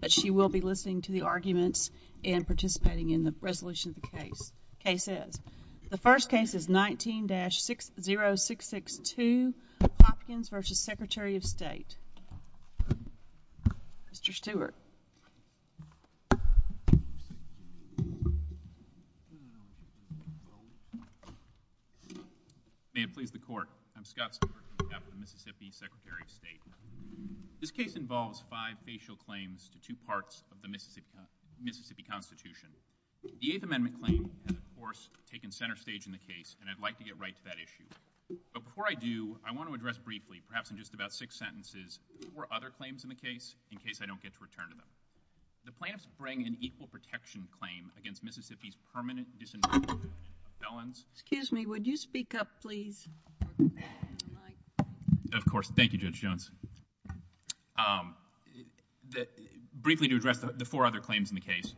but she will be listening to the arguments and participating in the resolution of the case. Case is, the first case is 19-60662, Hopkins v. Secretary of State. Mr. Stewart. May it please the court, I'm Scott Stewart, I'm the Mississippi Secretary of State. This case involves five facial claims to two parts of the Mississippi Constitution. The Eighth Amendment claim has, of course, taken center stage in the case and I'd like to get right to that issue. But before I do, I want to address briefly, perhaps in just about six sentences, four other claims in the case in case I don't get to return to them. The plaintiffs bring an equal protection claim against Mississippi's permanent disenfranchisement of felons. Excuse me, briefly to address the four other claims in the case.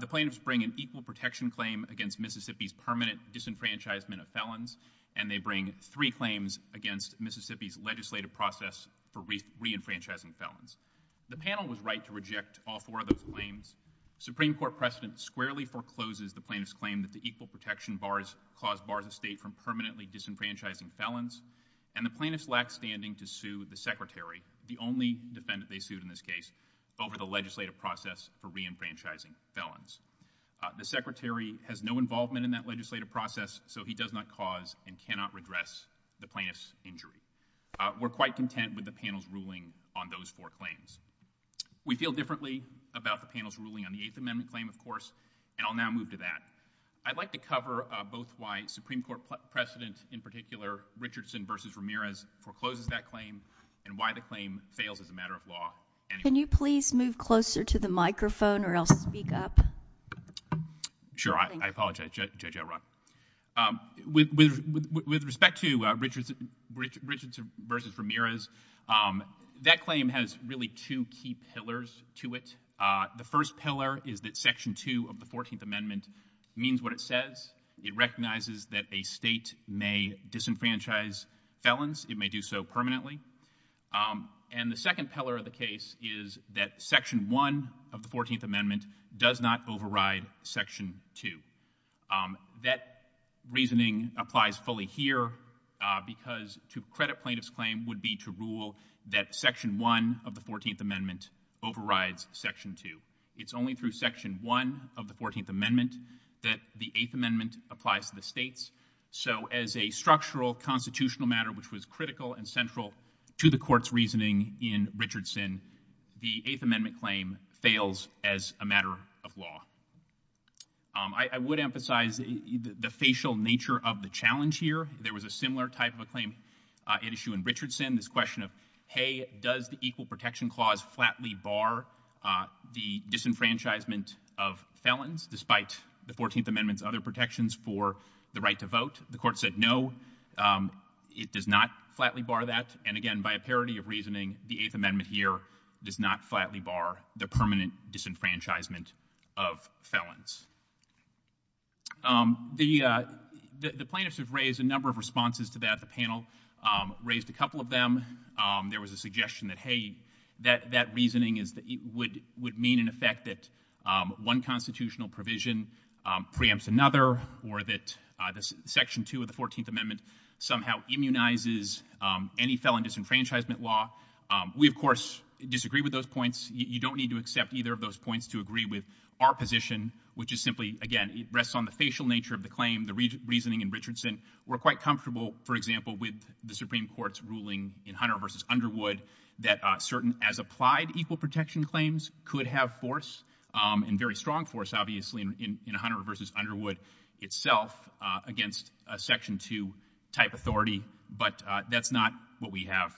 The plaintiffs bring an equal protection claim against Mississippi's permanent disenfranchisement of felons and they bring three claims against Mississippi's legislative process for re-enfranchising felons. The panel was right to reject all four of those claims. Supreme Court precedent squarely forecloses the plaintiff's claim that the equal protection clause bars a state from permanently disenfranchising felons and the plaintiffs lack standing to sue the secretary, the only defendant they sued in this case, over the legislative process for re-enfranchising felons. Uh, the secretary has no involvement in that legislative process so he does not cause and cannot redress the plaintiff's injury. Uh, we're quite content with the panel's ruling on those four claims. We feel differently about the panel's ruling on the Eighth Amendment claim, of course, and I'll now move to that. I'd like to cover, uh, both why Supreme Court precedent in particular Richardson v. Ramirez forecloses that claim and why the claim fails as a matter of law. Can you please move closer to the microphone or I'll speak up? Sure, I apologize, Judge Elrod. Um, with respect to Richardson v. Ramirez, um, that claim has really two key pillars to it. Uh, the first pillar is that section two of the Fourteenth Amendment does not override re-enfranchise felons. It may do so permanently. Um, and the second pillar of the case is that section one of the Fourteenth Amendment does not override section two. Um, that reasoning applies fully here, uh, because to credit plaintiff's claim would be to rule that section one of the Fourteenth Amendment overrides section two. It's only through section one of the Fourteenth Amendment that the Eighth Amendment applies to the states. So as a structural constitutional matter, which was critical and central to the court's reasoning in Richardson, the Eighth Amendment claim fails as a matter of law. Um, I, I would emphasize the, the facial nature of the challenge here. There was a similar type of a claim, uh, issue in Richardson. This question of, hey, does the equal protection clause flatly bar, uh, the disenfranchisement of felons despite the Fourteenth Amendment's other protections for the right to vote? The court said, no, um, it does not flatly bar that. And again, by a parity of reasoning, the Eighth Amendment here does not flatly bar the permanent disenfranchisement of felons. Um, the, uh, the, the plaintiffs have raised a number of responses to that. The panel, um, raised a couple of them. Um, there was a suggestion that, hey, that, that reasoning is that it would, would mean in effect that, um, one constitutional provision, um, preempts another or that, uh, this Section Two of the Fourteenth Amendment somehow immunizes, um, any felon disenfranchisement law. Um, we of course disagree with those points. You, you don't need to accept either of those points to agree with our position, which is simply, again, it rests on the facial nature of the claim, the reasoning in Richardson. We're quite comfortable, for example, with the Supreme Court's ruling in Hunter versus Underwood that, uh, certain as applied equal protection claims could have force, um, and very strong force, obviously, in, in Hunter versus Underwood itself, uh, against a Section Two type authority, but, uh, that's not what we have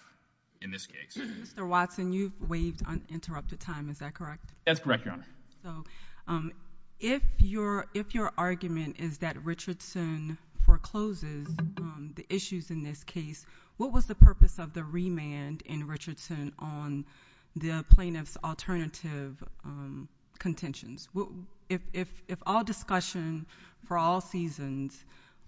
in this case. Mr. Watson, you've waived uninterrupted time, is that correct? That's correct, Your Honor. So, um, if your, if your argument is that Richardson forecloses, um, the issues in this case, what was the purpose of the remand in Richardson on the plaintiff's alternative, um, contentions? What, if, if, if all discussion for all seasons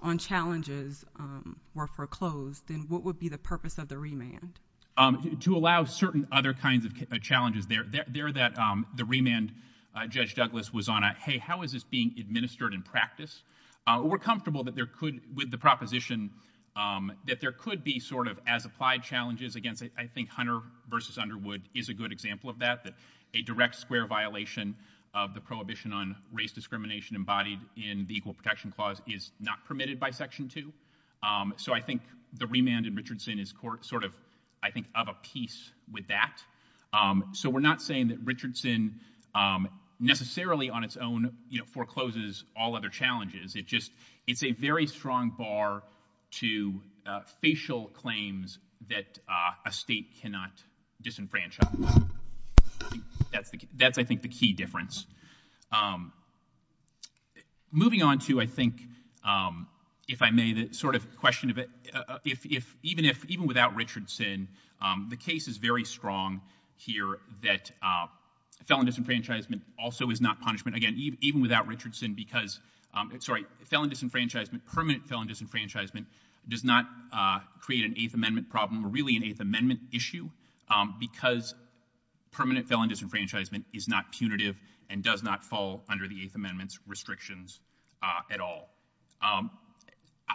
on challenges, um, were foreclosed, then what would be the purpose of the remand? Um, to allow certain other kinds of challenges there, there, there that, um, the remand, uh, Judge Douglas was on a, hey, how is this being administered in practice? Uh, we're comfortable that there could, with the proposition, um, that there could be sort of as applied challenges against, I, I think Hunter versus Underwood is a good example of that, that a direct square violation of the prohibition on race discrimination embodied in the Equal Protection Clause is not permitted by Section Two. Um, so I think the remand in Richardson is court, sort of, I think, of a piece with that. Um, so we're not saying that Richardson, um, necessarily on its own, you know, forecloses all other challenges. It just, it's a very strong bar to, uh, facial claims that, uh, a state cannot disenfranchise. That's the, that's, I think, the key difference. Um, moving on to, I think, um, if I may, the sort of question of it, uh, if, if, even if, even without Richardson, um, the case is very strong here that, uh, felon disenfranchisement also is not punishment. Again, even, even without disenfranchisement, permanent felon disenfranchisement does not, uh, create an Eighth Amendment problem or really an Eighth Amendment issue, um, because permanent felon disenfranchisement is not punitive and does not fall under the Eighth Amendment's restrictions, uh, at all. Um,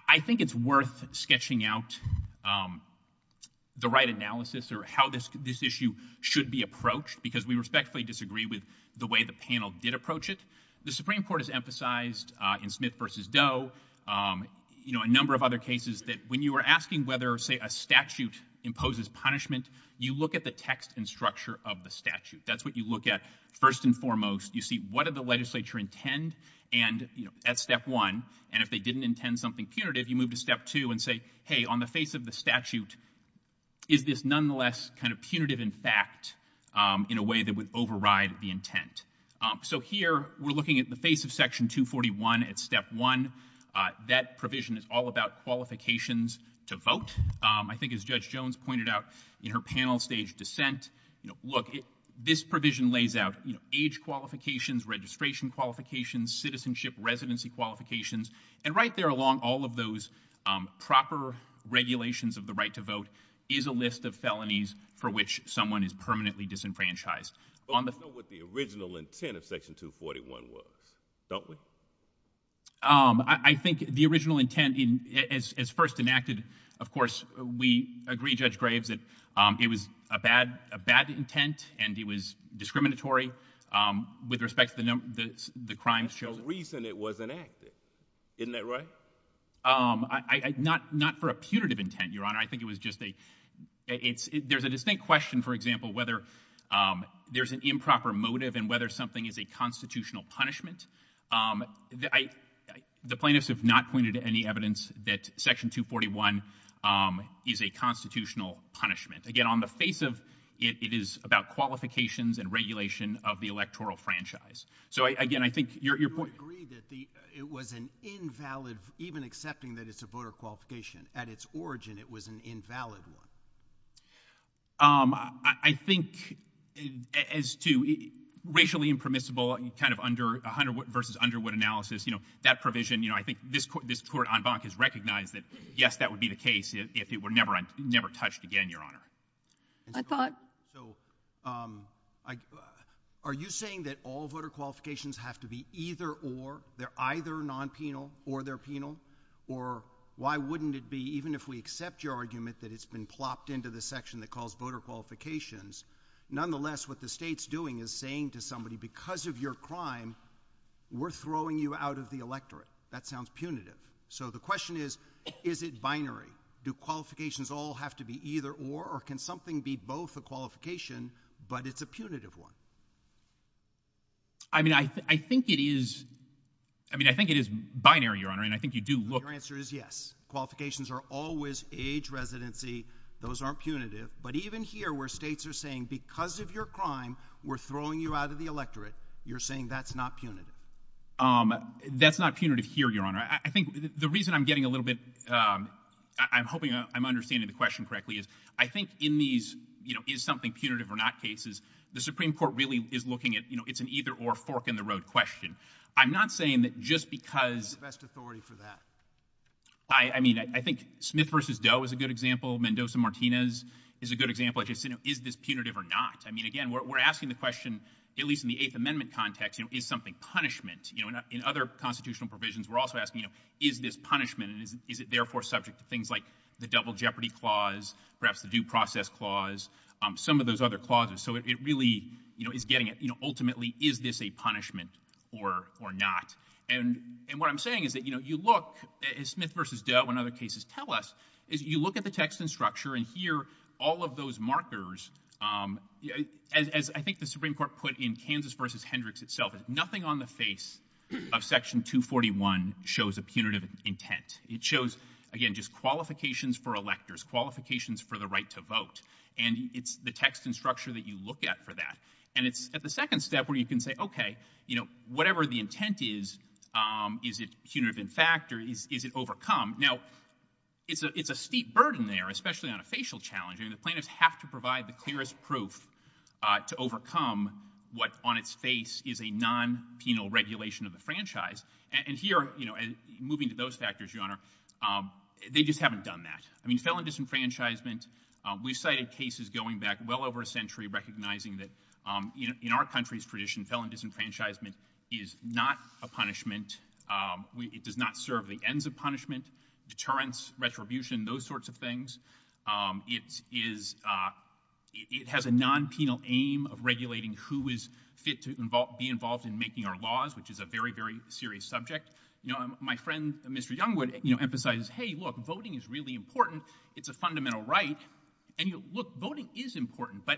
I think it's worth sketching out, um, the right analysis or how this, this issue should be approached because we respectfully disagree with the way the panel did approach it. The panel, um, you know, a number of other cases that when you are asking whether, say, a statute imposes punishment, you look at the text and structure of the statute. That's what you look at first and foremost. You see what did the legislature intend and, you know, at step one, and if they didn't intend something punitive, you move to step two and say, hey, on the face of the statute, is this nonetheless kind of punitive in fact, um, in a way that would uh, that provision is all about qualifications to vote. Um, I think as Judge Jones pointed out in her panel stage dissent, you know, look, this provision lays out, you know, age qualifications, registration qualifications, citizenship, residency qualifications, and right there along all of those, um, proper regulations of the right to vote is a list of felonies for which someone is permanently disenfranchised on the... Um, I, I think the original intent in, as, as first enacted, of course, we agree, Judge Graves, that, um, it was a bad, a bad intent and it was discriminatory, um, with respect to the number, the, the crimes chosen. The reason it was enacted, isn't that right? Um, I, I, not, not for a punitive intent, Your Honor. I think it was just a, it's, there's a distinct question, for example, whether, um, there's an improper motive and whether something is a constitutional punishment. Um, I, I, the plaintiffs have not pointed any evidence that Section 241, um, is a constitutional punishment. Again, on the face of, it, it is about qualifications and regulation of the electoral franchise. So, I, again, I think your, your point... Do you agree that the, it was an invalid, even accepting that it's a voter qualification, at its origin, it was an invalid one? Um, I, I think, as to, racially impermissible, kind of under, under, versus under what analysis, you know, that provision, you know, I think this Court, this Court en banc has recognized that, yes, that would be the case if, if it were never, never touched again, Your Honor. I thought... So, um, I, are you saying that all voter qualifications have to be either or, they're either non-penal or they're penal? Or, why wouldn't it be, even if we accept your argument that it's been plopped into the section that calls voter qualifications, nonetheless, what the State's doing is saying to somebody, because of your crime, we're throwing you out of the electorate. That sounds punitive. So, the question is, is it binary? Do qualifications all have to be either or, or can something be both a qualification, but it's a punitive one? I mean, I, I think it is, I mean, I think it is binary, Your Honor, and I think you do look... Your answer is yes. Qualifications are always age residency. Those aren't punitive. But even here, where States are saying, because of your crime, we're throwing you out of the electorate, you're saying that's not punitive? Um, that's not punitive here, Your Honor. I, I think the reason I'm getting a little bit, um, I, I'm hoping I'm understanding the question correctly is, I think in these, you know, is something punitive or not cases, the Supreme Court really is looking at, you know, it's an either or fork in the road question. I'm not saying that just because... I, I mean, I, I think Smith versus Doe is a good example. Mendoza-Martinez is a good example. It's just, you know, is this punitive or not? I mean, again, we're, we're asking the question, at least in the Eighth Amendment context, you know, is something punishment? You know, in other constitutional provisions, we're also asking, you know, is this punishment and is, is it therefore subject to things like the double jeopardy clause, perhaps the due process clause, um, some of those other clauses. So it, it really, you know, is getting it, you know, ultimately, is this a punishment or, or not? And, and what I'm saying is that, you know, you look, as Smith versus Doe and other cases tell us, is you look at the text and structure and hear all of those markers, um, as, as I think the Supreme Court put in Kansas versus Hendricks itself, is nothing on the face of Section 241 shows a punitive intent. It shows, again, just qualifications for electors, qualifications for the right to vote. And it's the text and structure that you look at for that. And it's at the second step where you can say, okay, you know, whatever the intent is, um, is it punitive in fact or is, is it overcome? Now, it's a, it's a steep burden there, especially on a facial challenge. I mean, the plaintiffs have to provide the clearest proof, uh, to overcome what on its face is a non-penal regulation of the franchise. And, and here, you know, moving to those factors, Your Honor, um, they just haven't done that. I mean, felon disenfranchisement, um, we've cited cases going back well over a century recognizing that, um, you know, in our country's tradition, felon disenfranchisement is not a punishment. Um, we, it does not serve the ends of punishment, deterrence, retribution, those sorts of things. Um, it is, uh, it has a non-penal aim of regulating who is fit to involve, be involved in making our laws, which is a very, very serious subject. You know, my friend, Mr. Youngwood, you know, emphasizes, hey, look, voting is really important. It's a fundamental right. And you look, voting is important, but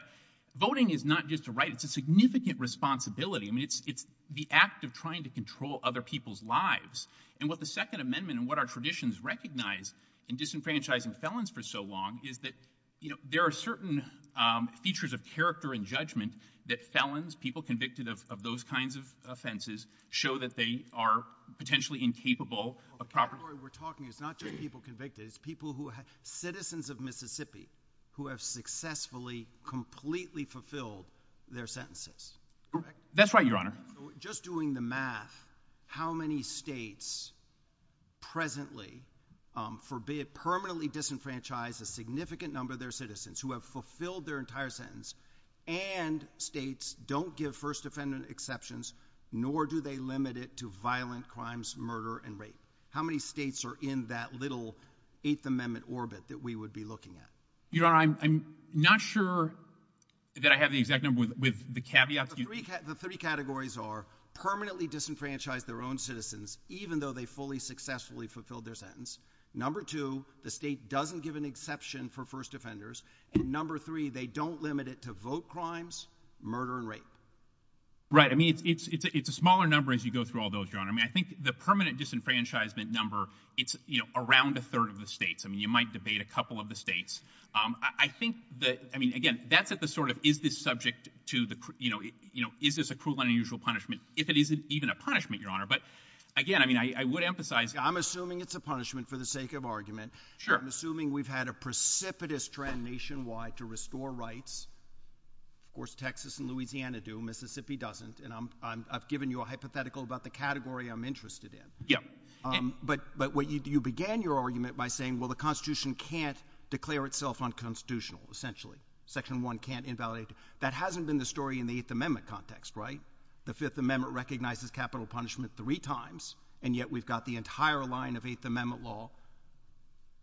voting is not just a right. It's a significant responsibility. I mean, it's, it's the act of trying to control other people's lives. And what the Second Amendment and what our traditions recognize in disenfranchising felons for so long is that, you know, there are certain, um, features of character and judgment that felons, people convicted of, of those kinds of offenses, show that they are potentially incapable of proper... The category we're talking is not just people convicted. It's people who have, citizens of Mississippi who have successfully, completely fulfilled their sentences. That's right, Your Honor. Just doing the math, how many states presently, um, forbid, permanently disenfranchise a significant number of their citizens who have fulfilled their entire sentence, and states don't give first offender exceptions, nor do they limit it to violent crimes, murder, and rape? How many states are in that little Eighth Amendment orbit that we would be looking at? Your Honor, I'm, I'm not sure that I have the exact number with, with the caveats. The three, the three categories are permanently disenfranchise their own citizens, even though they fully, successfully fulfilled their sentence. Number two, the state doesn't give an exception for first offenders. And number three, they don't limit it to vote crimes, murder, and rape. Right. I mean, it's, it's, it's a, it's a smaller number as you go through all those, Your Honor. I mean, I think the permanent disenfranchisement number, it's, you know, around a third of the states. I mean, you might debate a couple of the states. Um, I, I think that, I mean, again, that's at the sort of, is this subject to the, you know, you know, is this a cruel and unusual punishment? If it isn't even a punishment, Your Honor, but again, I mean, I, I would emphasize. I'm assuming it's a punishment for the sake of argument. Sure. I'm assuming we've had a precipitous trend nationwide to restore rights. Of course, Texas and Louisiana do. Mississippi doesn't. And I'm, I'm, I've given you a hypothetical about the category I'm interested in. Yeah. Um, but, but what you, you began your argument by saying, well, the Constitution can't declare itself unconstitutional, essentially. Section one can't invalidate. That hasn't been the story in the Eighth Amendment context, right? The Fifth Amendment recognizes capital punishment three times, and yet we've got the entire line of Eighth Amendment law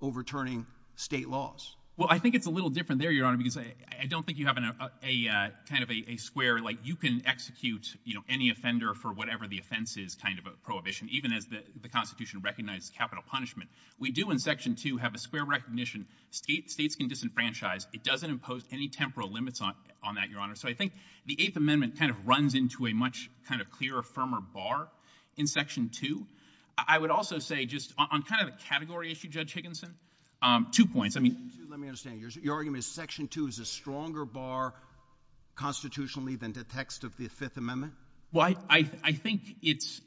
overturning state laws. Well, I think it's a little different there, Your Honor, because I, I don't think you have a, a, uh, kind of a, a square, like you can execute, you know, any offender for whatever the offense is kind of a prohibition, even as the Constitution recognizes capital punishment. We do in section two have a square recognition. States, states can disenfranchise. It doesn't impose any temporal limits on, on that, Your Honor. So I think the Eighth Amendment kind of runs into a much kind of clearer, firmer bar in section two. I would also say just on kind of a category issue, Judge Higginson, um, two points. I mean, Section two, let me understand. Your argument is section two is a stronger bar constitutionally than the text of the Fifth Amendment? Well, I, I, I think it's,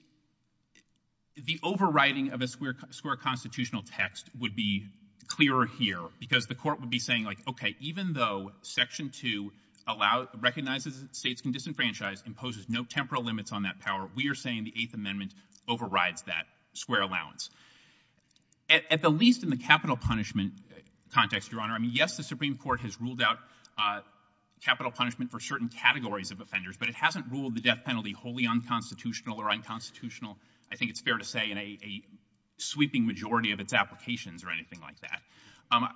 the overriding of a square, square constitutional text would be clearer here because the court would be saying like, okay, even though section two allow, recognizes states can disenfranchise, imposes no temporal limits on that power, we are saying the Eighth Amendment overrides that square allowance. At, at the least in the capital punishment context, Your Honor, I mean, yes, the Supreme Court has ruled out, uh, capital punishment for certain categories of offenders, but it hasn't ruled the death penalty wholly unconstitutional or unconstitutional. I think it's fair to say in a, a sweeping majority of its applications or anything like that. Um,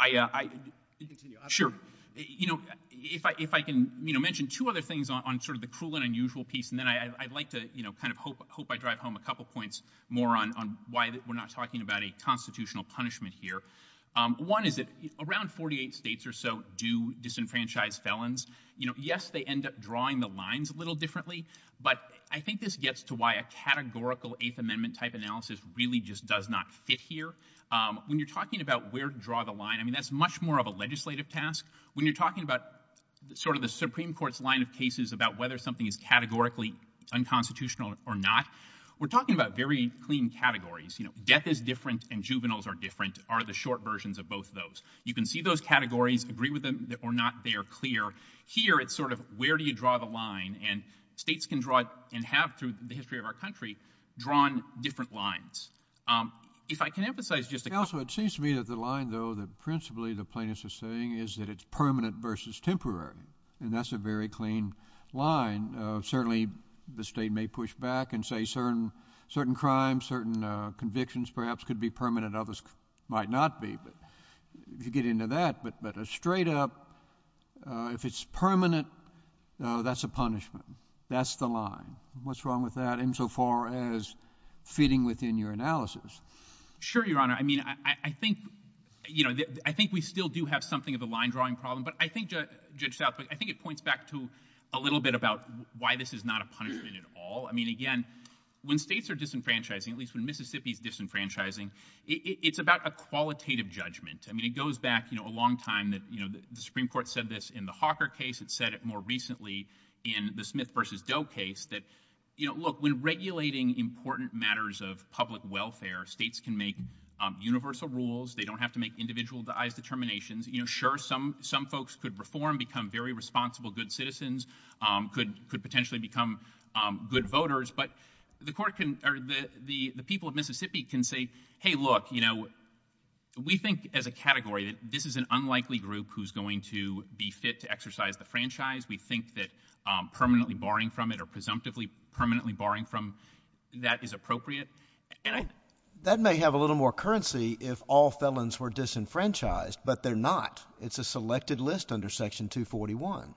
I, uh, I, sure. You know, if I, if I can, you know, mention two other things on, on sort of the cruel and unusual piece and then I, I'd like to, you know, kind of hope, hope I drive home a couple points more on, on why we're not talking about a constitutional punishment here. Um, one is that around 48 states or so do disenfranchise felons. You know, yes, they end up drawing the lines a little differently, but I think this gets to why a categorical Eighth Amendment type analysis really just does not fit here. Um, when you're talking about where to draw the line, I mean, that's much more of a legislative task. When you're talking about sort of the Supreme Court's line of cases about whether something is categorically unconstitutional or not, we're talking about very clean categories. You know, death is different and juveniles are different, are the short versions of both of those. You can see those categories, agree with them or not. They are clear here. It's sort of where do you draw the line? And states can draw it and have through the history of our country drawn different lines. Um, if I can emphasize just a couple. Also, it seems to me that the line though, that principally the plaintiffs are saying is that it's permanent versus temporary. And that's a very clean line. Uh, certainly the state may push back and say certain, certain crimes, certain convictions perhaps could be permanent. Others might not be, but if you get into that, but, but a straight up, uh, if it's permanent, uh, that's a punishment. That's the line. What's wrong with that? Insofar as fitting within your analysis. Sure, Your Honor. I mean, I, I think, you know, I think we still do have something of the line drawing problem, but I think Judge Southwick, I think it points back to a little bit about why this is not a punishment at all. I mean, again, when states are disenfranchising, at least when Mississippi is disenfranchising, it's about a qualitative judgment. I mean, it goes back, you know, a long time that, you know, the Supreme Court said this in the Hawker case. It said it more recently in the Smith versus Doe case that, you know, look, when regulating important matters of public welfare, states can make universal rules. They don't have to make individualized determinations. You know, sure. Some, some folks could reform, become very responsible, good citizens, um, could, could potentially become, um, good voters, but the Court can, or the, the, the people of Mississippi can say, hey, look, you know, we think as a category that this is an unlikely group who's going to be fit to exercise the franchise. We think that, um, permanently barring from it or presumptively permanently barring from that is appropriate, and I... That may have a little more currency if all felons were disenfranchised, but they're not. It's a selected list under Section 241.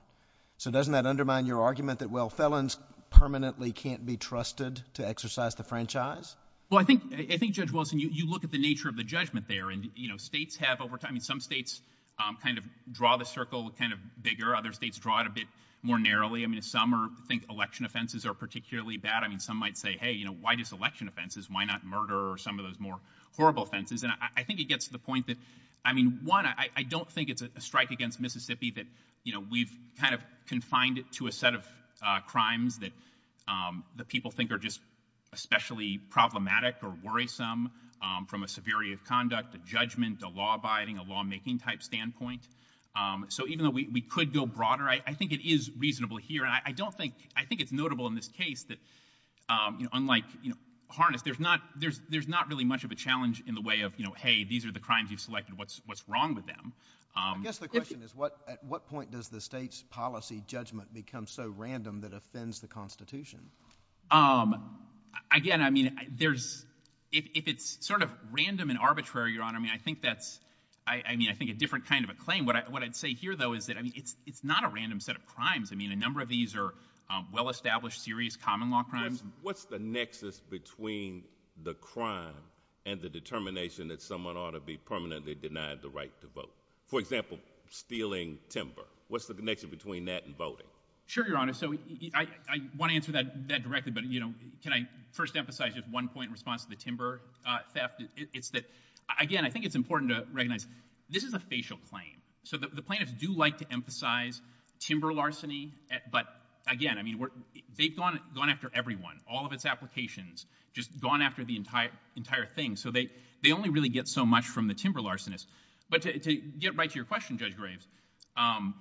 So, doesn't that undermine your argument that, well, felons permanently can't be trusted to exercise the franchise? Well, I think, I think, Judge Wilson, you, you look at the nature of the judgment there, and, you know, states have over time... I mean, some states, um, kind of draw the circle kind of bigger. Other states draw it a bit more narrowly. I mean, some are... think election offenses are particularly bad. I mean, some might say, hey, you know, why just election offenses? Why not murder or some of those more horrible offenses? And I, I don't think it's a strike against Mississippi that, you know, we've kind of confined it to a set of, uh, crimes that, um, that people think are just especially problematic or worrisome, um, from a severity of conduct, a judgment, a law abiding, a law making type standpoint. Um, so even though we, we could go broader, I, I think it is reasonable here. I, I don't think... I think it's notable in this case that, um, you know, unlike, you know, Harness, there's not, there's, there's not really much of a challenge in the way of, you know, hey, these are the crimes you've selected. What's, what's wrong with them? Um... I guess the question is what, at what point does the state's policy judgment become so random that offends the Constitution? Um, again, I mean, there's... if, if it's sort of random and arbitrary, Your Honor, I mean, I think that's, I, I mean, I think a different kind of a claim. What I, what I'd say here, though, is that, I mean, it's, it's not a random set of crimes. I mean, a number of these are, um, well-established, serious common law crimes. What's, what's the nexus between the crime and the determination that someone ought to be permanently denied the right to vote? For example, stealing timber. What's the connection between that and voting? Sure, Your Honor. So, I, I want to answer that, that directly, but, you know, can I first emphasize just one point in response to the timber, uh, theft? It, it's that, again, I think it's important to recognize this is a facial claim. So, the, the plaintiffs do like to emphasize timber larceny, but, again, I mean, we're, they've gone, gone after everyone, all of its applications, just gone after the entire, entire thing, so they, they only really get so much from the timber larcenist. But to, to get right to your question, Judge Graves, um,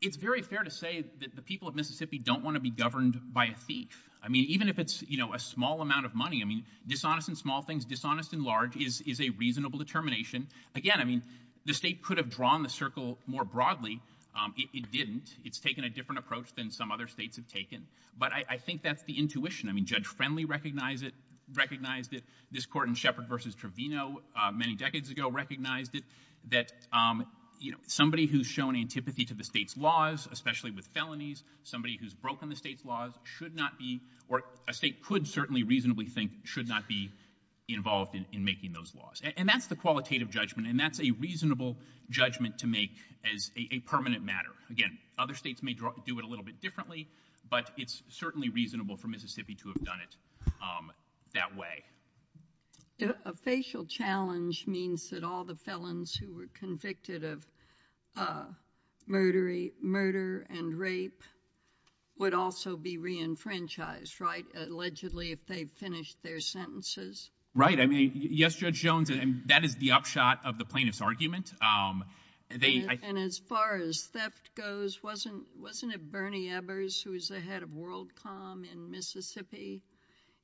it's very fair to say that the people of Mississippi don't want to be governed by a thief. I mean, even if it's, you know, a small amount of money, I mean, dishonest in small things, dishonest in large is, is a reasonable determination. Again, I mean, the state broadly, um, it, it didn't. It's taken a different approach than some other states have taken, but I, I think that's the intuition. I mean, Judge Friendly recognized it, recognized it. This court in Shepard v. Trevino, uh, many decades ago recognized it, that, um, you know, somebody who's shown antipathy to the state's laws, especially with felonies, somebody who's broken the state's laws, should not be, or a state could certainly reasonably think should not be involved in, in making those laws. And, and that's the qualitative to make as a, a permanent matter. Again, other states may do it a little bit differently, but it's certainly reasonable for Mississippi to have done it, um, that way. A facial challenge means that all the felons who were convicted of, uh, murdery, murder and rape would also be re-enfranchised, right? Allegedly, if they finished their sentences. Right. I mean, yes, Judge Jones, and that is the upshot of the plaintiff's argument. Um, they, I, And, and as far as theft goes, wasn't, wasn't it Bernie Ebbers, who was the head of World Com in Mississippi?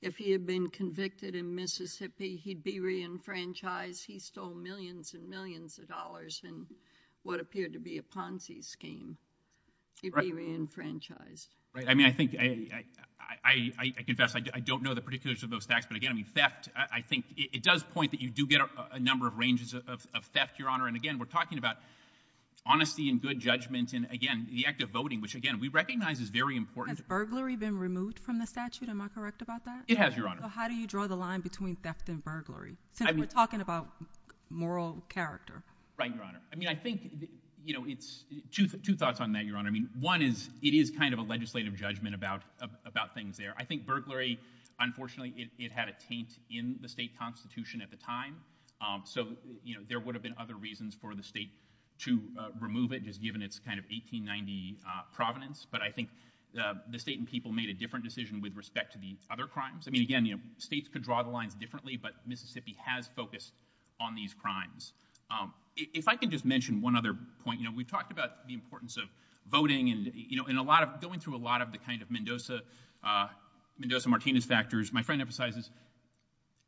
If he had been convicted in Mississippi, he'd be re-enfranchised. He stole millions and millions of dollars in what appeared to be a Ponzi scheme. He'd be re-enfranchised. Right. I mean, I think, I, I, I, I, I confess, I don't know the particulars of those facts, but again, I mean, theft, I, I think it, it does point that you do get a, a, a number of ranges of, of, of theft, Your Honor. And again, we're talking about honesty and good judgment and again, the act of voting, which again, we recognize is very important. Has burglary been removed from the statute? Am I correct about that? It has, Your Honor. So how do you draw the line between theft and burglary? Since we're talking about moral character. Right, Your Honor. I mean, I think, you know, it's, two, two thoughts on that, Your Honor. I mean, one is, it is kind of a legislative judgment about, about, about things there. I think burglary, unfortunately, it, it had a taint in the state constitution at the time. So, you know, there would have been other reasons for the state to remove it just given its kind of 1890 provenance. But I think the state and people made a different decision with respect to the other crimes. I mean, again, you know, states could draw the lines differently, but Mississippi has focused on these crimes. If I can just mention one other point, you know, we've talked about the importance of Mendoza-Martinez factors. My friend emphasizes,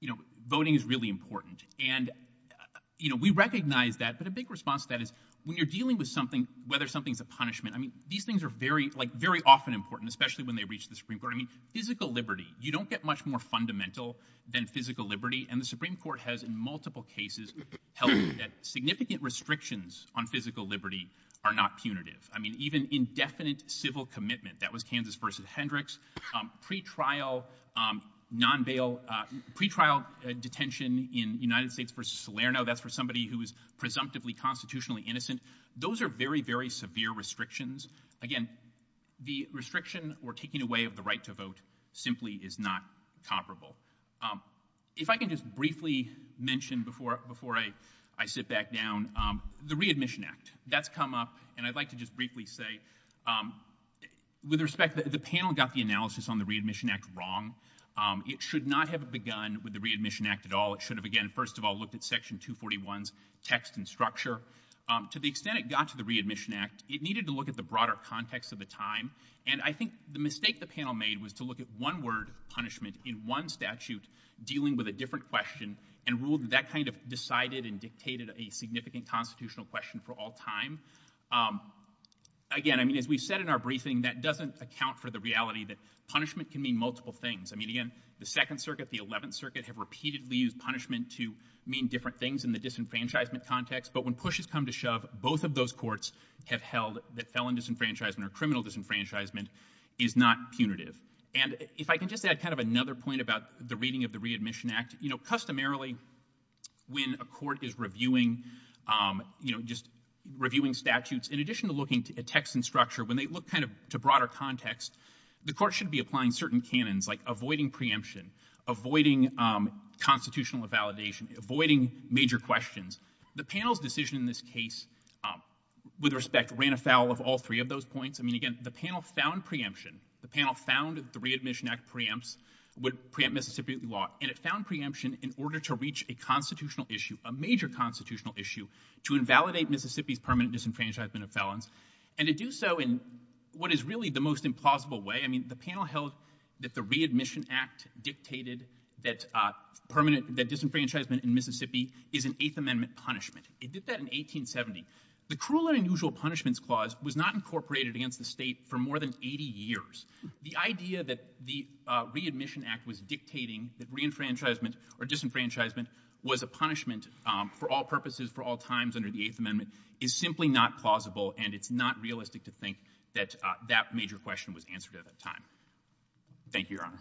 you know, voting is really important. And, you know, we recognize that, but a big response to that is when you're dealing with something, whether something's a punishment, I mean, these things are very, like, very often important, especially when they reach the Supreme Court. I mean, physical liberty, you don't get much more fundamental than physical liberty. And the Supreme Court has in multiple cases held that significant restrictions on physical liberty are not punitive. I mean, even indefinite civil commitment. That was Kansas versus Hendricks. Um, pretrial, um, non-bail, uh, pretrial detention in United States versus Salerno, that's for somebody who is presumptively constitutionally innocent. Those are very, very severe restrictions. Again, the restriction or taking away of the right to vote simply is not comparable. If I can just briefly mention before, before I, I sit back down, um, the Readmission Act. That's come up, and I'd like to just briefly say, um, with respect, the panel got the analysis on the Readmission Act wrong. Um, it should not have begun with the Readmission Act at all. It should have, again, first of all, looked at Section 241's text and structure. Um, to the extent it got to the Readmission Act, it needed to look at the broader context of the time. And I think the mistake the panel made was to look at one word, punishment, in one statute, dealing with a different question, and ruled that that kind of decided and dictated a significant constitutional question for all time. Um, again, I mean, as we've said in our briefing, that doesn't account for the reality that punishment can mean multiple things. I mean, again, the Second Circuit, the Eleventh Circuit have repeatedly used punishment to mean different things in the disenfranchisement context. But when pushes come to shove, both of those courts have held that felon disenfranchisement or criminal disenfranchisement is not punitive. And if I can just add kind of another point about the reading of the Readmission Act, you know, customarily, when a court is reviewing, um, you know, just reviewing statutes, in addition to looking at text and structure, when they look kind of to broader context, the court should be applying certain canons, like avoiding preemption, avoiding, um, constitutional invalidation, avoiding major questions. The panel's decision in this case, um, with respect ran afoul of all three of those points. I mean, again, the panel found preemption. The panel found that the Readmission Act preempts, would preempt Mississippi law, and it found preemption in order to reach a constitutional issue, a major constitutional issue, to invalidate Mississippi's permanent disenfranchisement of felons, and to do so in what is really the most implausible way. I mean, the panel held that the Readmission Act dictated that, uh, permanent, that disenfranchisement in Mississippi is an Eighth Amendment punishment. It did that in 1870. The Cruel and Unusual Punishments Clause was not incorporated against the state for more than 80 years. The idea that the, uh, Readmission Act was dictating that reenfranchisement or disenfranchisement was a punishment, um, for all purposes, for all times under the Eighth Amendment, is simply not plausible, and it's not realistic to think that, uh, that major question was answered at that time. Thank you, Your Honor.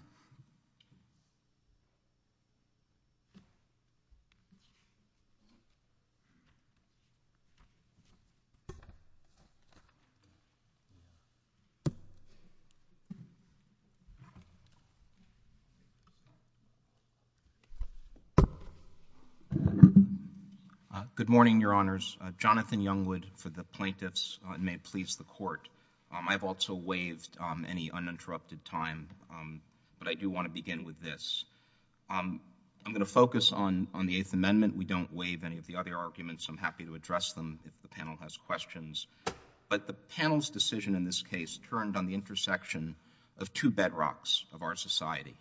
Uh, good morning, Your Honors. Uh, Jonathan Youngwood for the plaintiffs, and may it please the Court. Um, I've also waived, um, any uninterrupted time, um, but I do want to begin with this. Um, I'm going to focus on, on the Eighth Amendment. We don't waive any of the other arguments. I'm happy to address them if the panel has questions, but the panel's decision in this case turned on the intersection of two bedrocks of our society,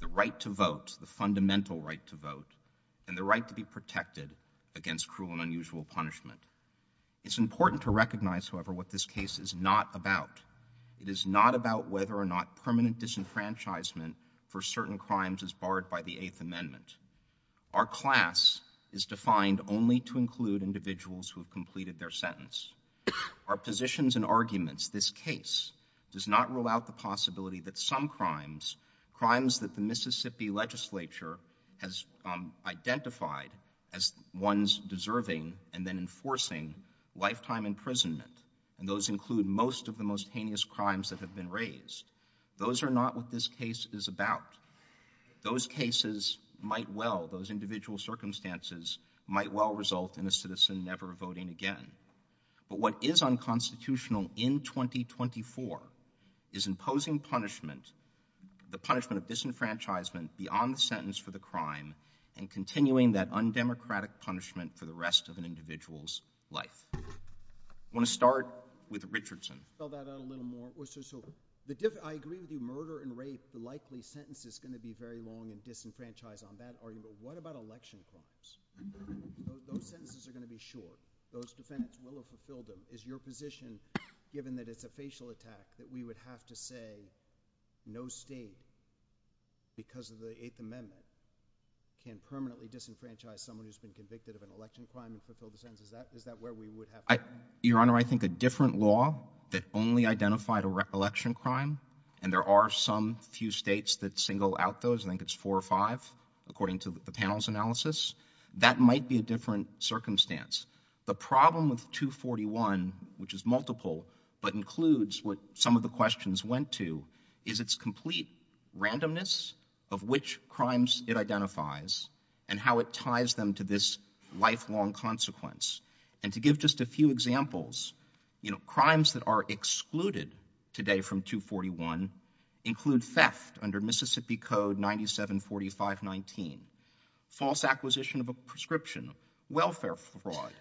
the right to vote, the fundamental right to vote, and the right to be protected against cruel and unusual punishment. It's important to recognize, however, what this case is not about. It is not about whether or not permanent disenfranchisement for certain crimes is barred by the Eighth Amendment. Our class is defined only to include individuals who have completed their sentence. Our positions and arguments, this case, does not rule out the possibility that some crimes, crimes that the Mississippi legislature has, um, identified as ones deserving and then enforcing lifetime imprisonment, and those include most of the most heinous crimes that have been raised. Those are not what this case is about. Those cases might well, those individual circumstances, might well result in a citizen never voting again. But what is unconstitutional in 2024 is imposing punishment, the punishment of undemocratic punishment for the rest of an individual's life. I want to start with Richardson. I'll spell that out a little more. So, so, the dif, I agree the murder and rape, the likely sentence is going to be very long and disenfranchised on that argument, but what about election crimes? Those sentences are going to be short. Those defendants will have fulfilled them. Is your position, given that it's a facial attack, that we would have to say no state, because of the Eighth Amendment, can permanently disenfranchise someone who's been convicted of an election crime and fulfill the sentence? Is that, is that where we would have to go? I, Your Honor, I think a different law that only identified a re, election crime, and there are some few states that single out those, I think it's four or five, according to the panel's analysis, that might be a different circumstance. The problem with 241, which is multiple, but includes what some of the questions went to, is its complete randomness of which crimes it identifies and how it ties them to this lifelong consequence. And to give just a few examples, you know, crimes that are excluded today from 241 include theft under Mississippi Code 974519, false acquisition of a prescription, welfare fraud,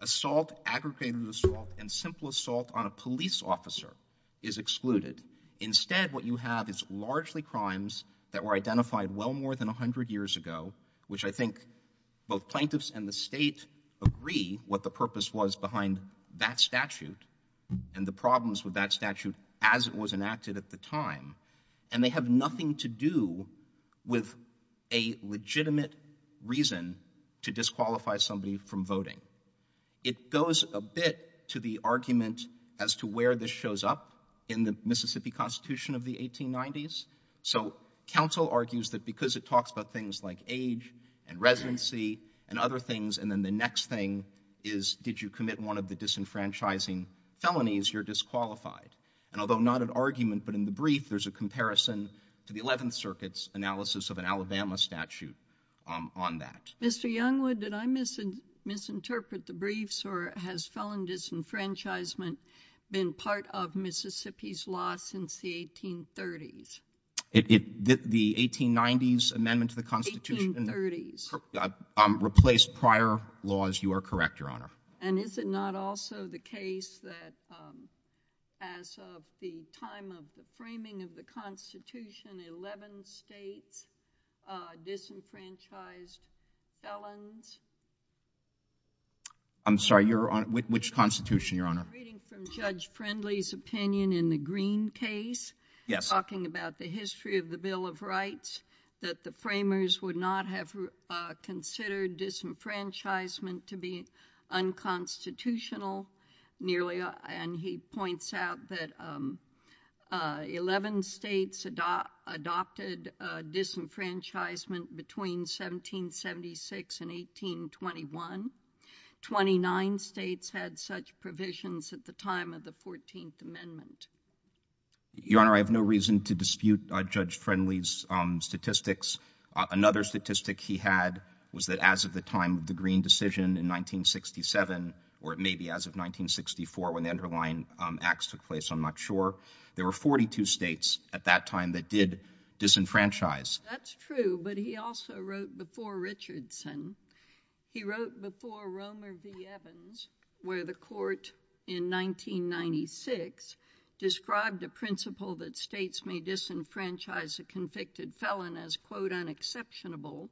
assault, aggregated assault, and simple assault on a police officer is excluded. Instead, what you have is largely crimes that were identified well more than a hundred years ago, which I think both plaintiffs and the state agree what the purpose was behind that statute and the problems with that statute as it was enacted at the time. And they have nothing to do with a legitimate reason to disqualify somebody from voting. It goes a bit to the argument as to where this shows up in the Mississippi Constitution of the 1890s. So counsel argues that because it talks about things like age and residency and other things, and then the next thing is did you commit one of the disenfranchising felonies, you're disqualified. And although not an argument, but in the brief, there's a comparison to the Eleventh Circuit's analysis of an Alabama statute on that. Mr. Youngwood, did I misinterpret the briefs or has felon disenfranchisement been part of Mississippi's law since the 1830s? The 1890s amendment to the Constitution replaced prior laws. You are correct, Your Honor. And is it not also the case that as of the time of the framing of the Constitution, eleven states disenfranchised felons? I'm sorry, Your Honor. Which Constitution, Your Honor? I'm reading from Judge Friendly's opinion in the Greene case, talking about the history of the Bill of Rights, that the framers would not have considered disenfranchisement to be unconstitutional. And he points out that eleven states adopted disenfranchisement between 1776 and 1821. Twenty-nine states had such provisions at the time of the Fourteenth Amendment. Your Honor, I have no reason to dispute Judge Friendly's statistics. Another statistic he had was that as of the time of the Greene decision in 1967, or maybe as of 1964 when the underlying acts took place, I'm not sure, there were 42 states at that time that did disenfranchise. That's true, but he also wrote before Richardson, he wrote before Romer v. Evans, where the court in 1996 described a principle that states may disenfranchise a convicted felon as, quote, unexceptionable.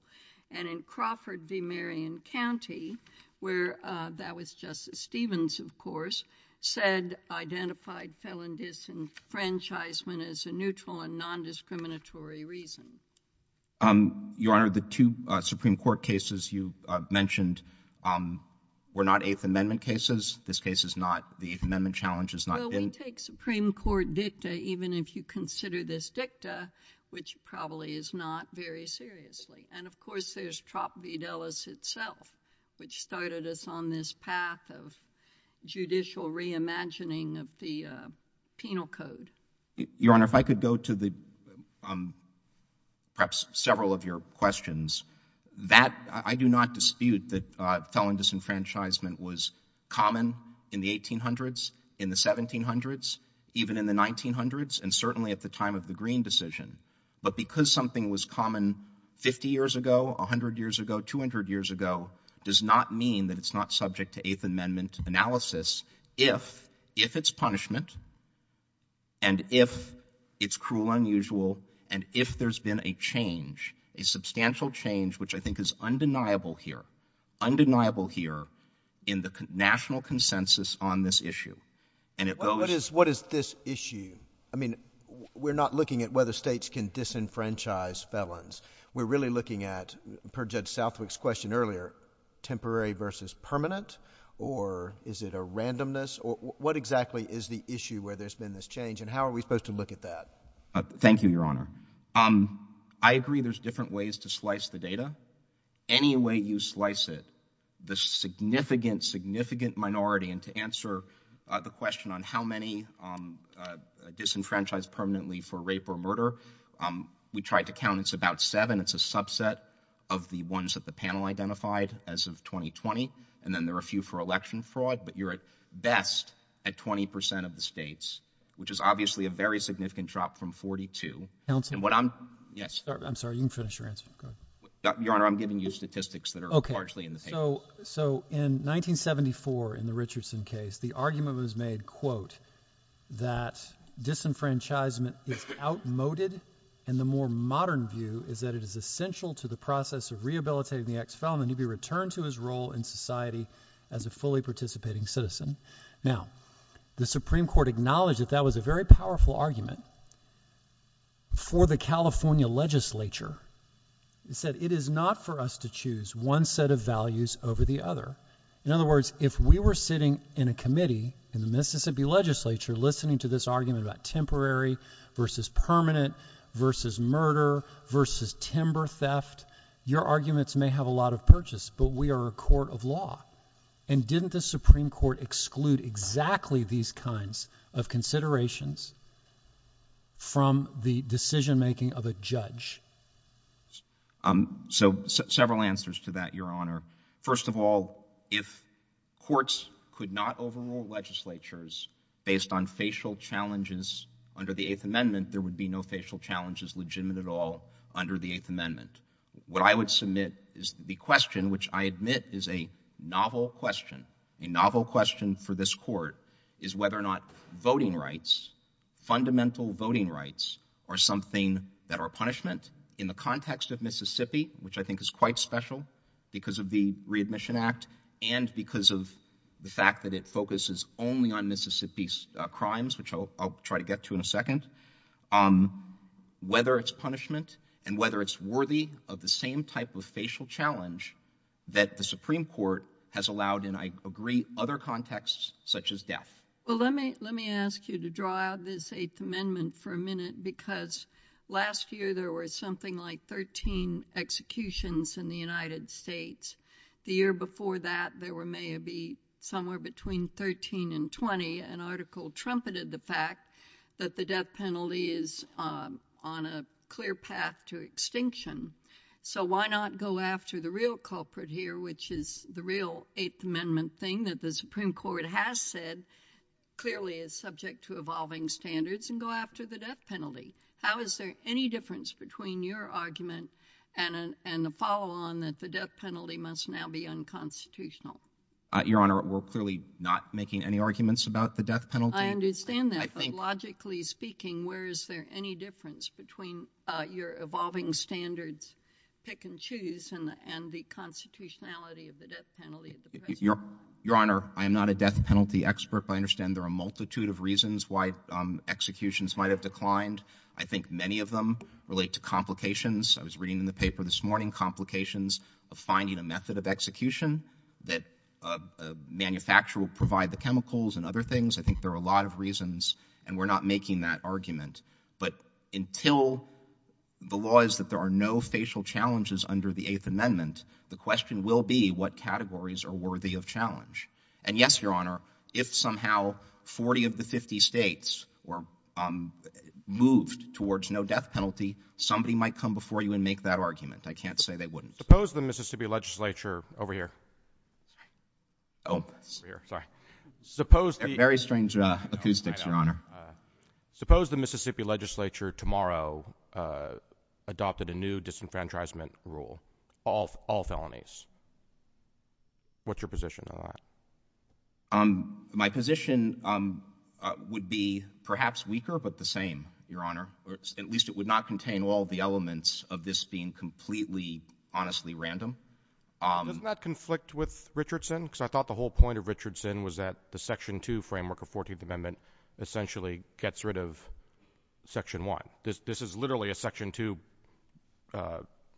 And in Crawford v. Marion County, where that was Justice Stevens, of course, said identified felon disenfranchisement as a neutral and nondiscriminatory reason. Your Honor, the two Supreme Court cases you mentioned were not Eighth Amendment cases. This case is not. The Eighth Amendment challenge is not in. Well, we take Supreme Court dicta even if you consider this dicta, which probably is not very seriously. And, of course, there's Trapp v. Dulles itself, which started us on this path of judicial reimagining of the penal code. Your Honor, if I could go to perhaps several of your questions. I do not dispute that felon disenfranchisement was common in the 1800s, in the 1700s, even in the 1900s, and certainly at the time of the Green decision. But because something was common 50 years ago, 100 years ago, 200 years ago, does not mean that it's not subject to Eighth Amendment analysis if it's punishment and if it's cruel, unusual, and if there's been a change, a substantial change, which I think is undeniable here, undeniable here in the national consensus on this issue. Well, what is this issue? I mean, we're not looking at whether states can disenfranchise felons. We're really looking at, per Judge Southwick's question earlier, temporary versus permanent or is it a randomness? What exactly is the issue where there's been this change and how are we supposed to look at that? Thank you, Your Honor. I agree there's different ways to slice the data. Any way you slice it, the significant, significant minority, and to answer the question on how many disenfranchised permanently for rape or murder, we tried to count. It's about seven. It's a subset of the ones that the panel identified as of 2020, and then there are a few for election fraud, but you're at best at 20 percent of the states, which is obviously a very significant drop from 42. Counselor? Yes. I'm sorry. You can finish your answer. Go ahead. Your Honor, I'm giving you statistics that are largely in the paper. So in 1974, in the Richardson case, the argument was made, quote, that disenfranchisement is outmoded and the more modern view is that it is essential to the process of rehabilitating the ex-felon that he be returned to his role in society as a fully participating citizen. Now, the Supreme Court acknowledged that that was a very powerful argument for the California legislature. It said, it is not for us to choose one set of values over the other. In other words, if we were sitting in a committee in the Mississippi legislature listening to this argument about temporary versus permanent versus murder versus timber theft, your arguments may have a lot of purchase, but we are a court of law, and didn't the Supreme Court exclude exactly these kinds of considerations from the decision making of a judge? So several answers to that, your Honor. First of all, if courts could not overrule legislatures based on facial challenges under the Eighth Amendment, there would be no facial challenges legitimate at all under the Eighth Amendment. What I would submit is the question, which I admit is a novel question, a novel question for this court, is whether or not voting rights, fundamental voting rights, are something that are punishment in the context of Mississippi, which I think is quite special because of the readmission act and because of the fact that it focuses only on Mississippi's crimes, which I'll try to get to in a second, whether it's punishment and whether it's worthy of the same type of facial challenge that the Supreme Court has allowed in, I agree, other contexts such as death. Well, let me ask you to draw out this Eighth Amendment for a minute because last year there were something like 13 executions in the United States. The year before that, there were maybe somewhere between 13 and 20, and an article trumpeted the fact that the death penalty is on a clear path to extinction. So why not go after the real culprit here, which is the real Eighth Amendment thing that the Supreme Court has said clearly is subject to evolving standards, and go after the death penalty? How is there any difference between your argument and the follow-on that the death penalty must now be unconstitutional? Your Honor, we're clearly not making any arguments about the death penalty. I understand that, but logically speaking, where is there any difference between your evolving standards, pick and choose, and the constitutionality of the death penalty? Your Honor, I am not a death penalty expert, but I understand there are a multitude of reasons why executions might have declined. I think many of them relate to complications. I was reading in the paper this morning complications of finding a method of execution that a manufacturer will provide the chemicals and other things. I think there are a lot of reasons, and we're not making that argument. But until the law is that there are no facial challenges under the Eighth Amendment, the question will be what categories are worthy of challenge. And yes, Your Honor, if somehow 40 of the 50 States were moved towards no death penalty, somebody might come before you and make that argument. I can't say they wouldn't. Suppose the Mississippi legislature, over here, suppose the Mississippi legislature tomorrow adopted a new disenfranchisement rule, all felonies. What's your position on that? My position would be perhaps weaker, but the same, Your Honor. At least it would not contain all the elements of this being completely, honestly random. Doesn't that conflict with Richardson? Because I thought the whole point of Richardson was that the Section 2 framework of the Fourteenth Amendment essentially gets rid of Section 1. This is literally a Section 2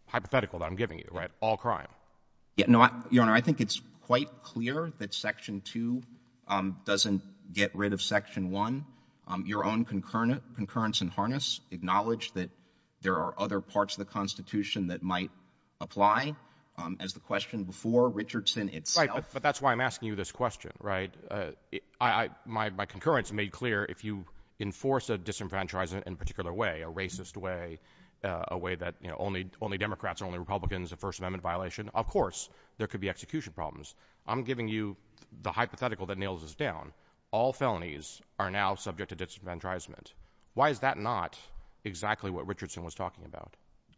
hypothetical that I'm giving you, right? All crime. No, Your Honor, I think it's quite clear that Section 2 doesn't get rid of Section 1. Your own concurrence and harness acknowledge that there are other parts of the Constitution that might apply, as the question before Richardson itself. Right, but that's why I'm asking you this question, right? My concurrence made clear if you enforce a disenfranchisement in a particular way, a racist way, a way that only Democrats and only Republicans, a First Amendment violation, of course there could be execution problems. I'm giving you the hypothetical that nails us down. All felonies are now subject to disenfranchisement Why is that not exactly what Richardson was talking about?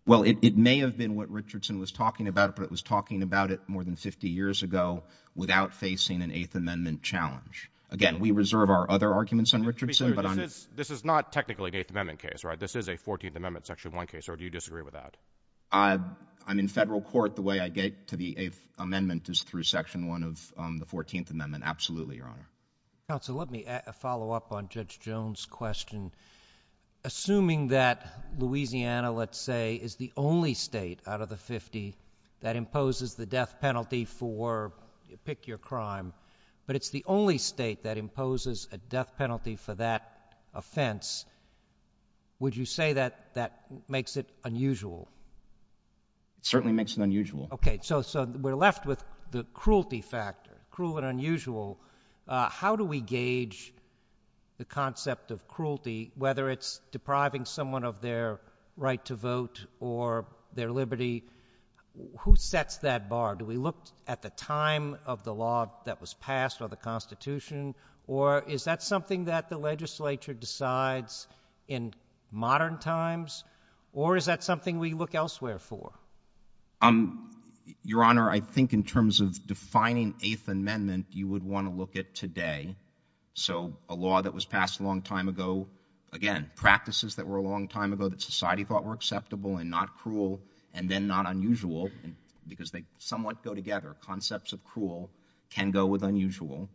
Well, it may have been what Richardson was talking about, but it was talking about it more than 50 years ago without facing an Eighth Amendment challenge. Again, we reserve our other arguments on Richardson, but I'm— This is not technically an Eighth Amendment case, right? This is a Fourteenth Amendment Section 1 case, or do you disagree with that? I'm in federal court. The way I get to the Eighth Amendment is through Section 1 of the Fourteenth Amendment, absolutely, Your Honor. Counsel, let me follow up on Judge Jones' question. Assuming that Louisiana, let's say, is the only state out of the 50 that imposes the death penalty for—pick your crime—but it's the only state that imposes a death penalty for that offense, would you say that makes it unusual? It certainly makes it unusual. Okay, so we're left with the cruelty factor, cruel and unusual. How do we gauge the concept of cruelty, whether it's depriving someone of their right to vote or their liberty? Who sets that bar? Do we look at the time of the law that was passed or the Constitution, or is that something that the legislature decides in modern times, or is that something we look elsewhere for? Your Honor, I think in terms of defining Eighth Amendment, you would want to look at today. So a law that was passed a long time ago, again, practices that were a long time ago that society thought were acceptable and not cruel and then not unusual, because they somewhat go together. Concepts of cruel can go with unusual.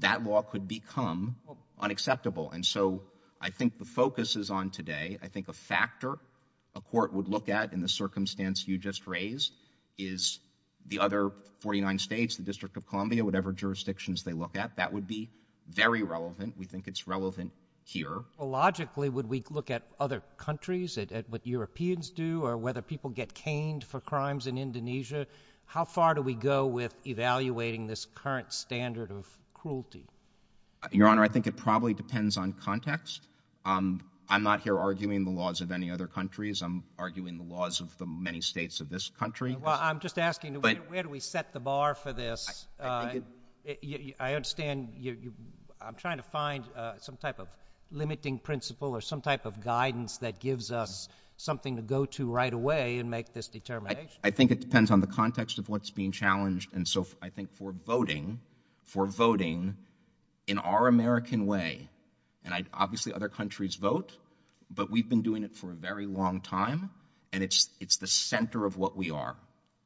That law could become unacceptable. And so I think the focus is on today. I think a factor a court would look at in the circumstance you just raised is the other 49 states, the District of Columbia, whatever jurisdictions they look at. That would be very relevant. We think it's relevant here. Logically, would we look at other countries, at what Europeans do or whether people get caned for crimes in Indonesia? How far do we go with evaluating this current standard of cruelty? Your Honor, I think it probably depends on context. I'm not here arguing the laws of any other countries. I'm arguing the laws of the many states of this country. Well, I'm just asking, where do we set the bar for this? I understand you're trying to find some type of limiting principle or some type of guidance that gives us something to go to right away and make this determination. I think it depends on the context of what's being challenged. And so I think for voting, for voting in our American way, and obviously other countries vote, but we've been doing it for a very long time, and it's the center of what we are.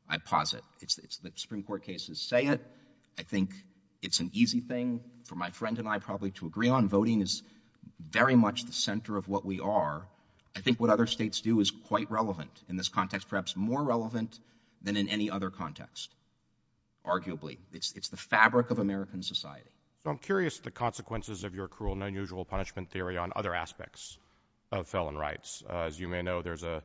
I posit. The Supreme Court cases say it. I think it's an easy thing for my friend and I probably to agree on. Voting is very much the center of what we are. I think what other states do is quite relevant in this context, perhaps more relevant than in any other context, arguably. It's the fabric of American society. I'm curious the consequences of your cruel and unusual punishment theory on other aspects of felon rights. As you may know, there's a,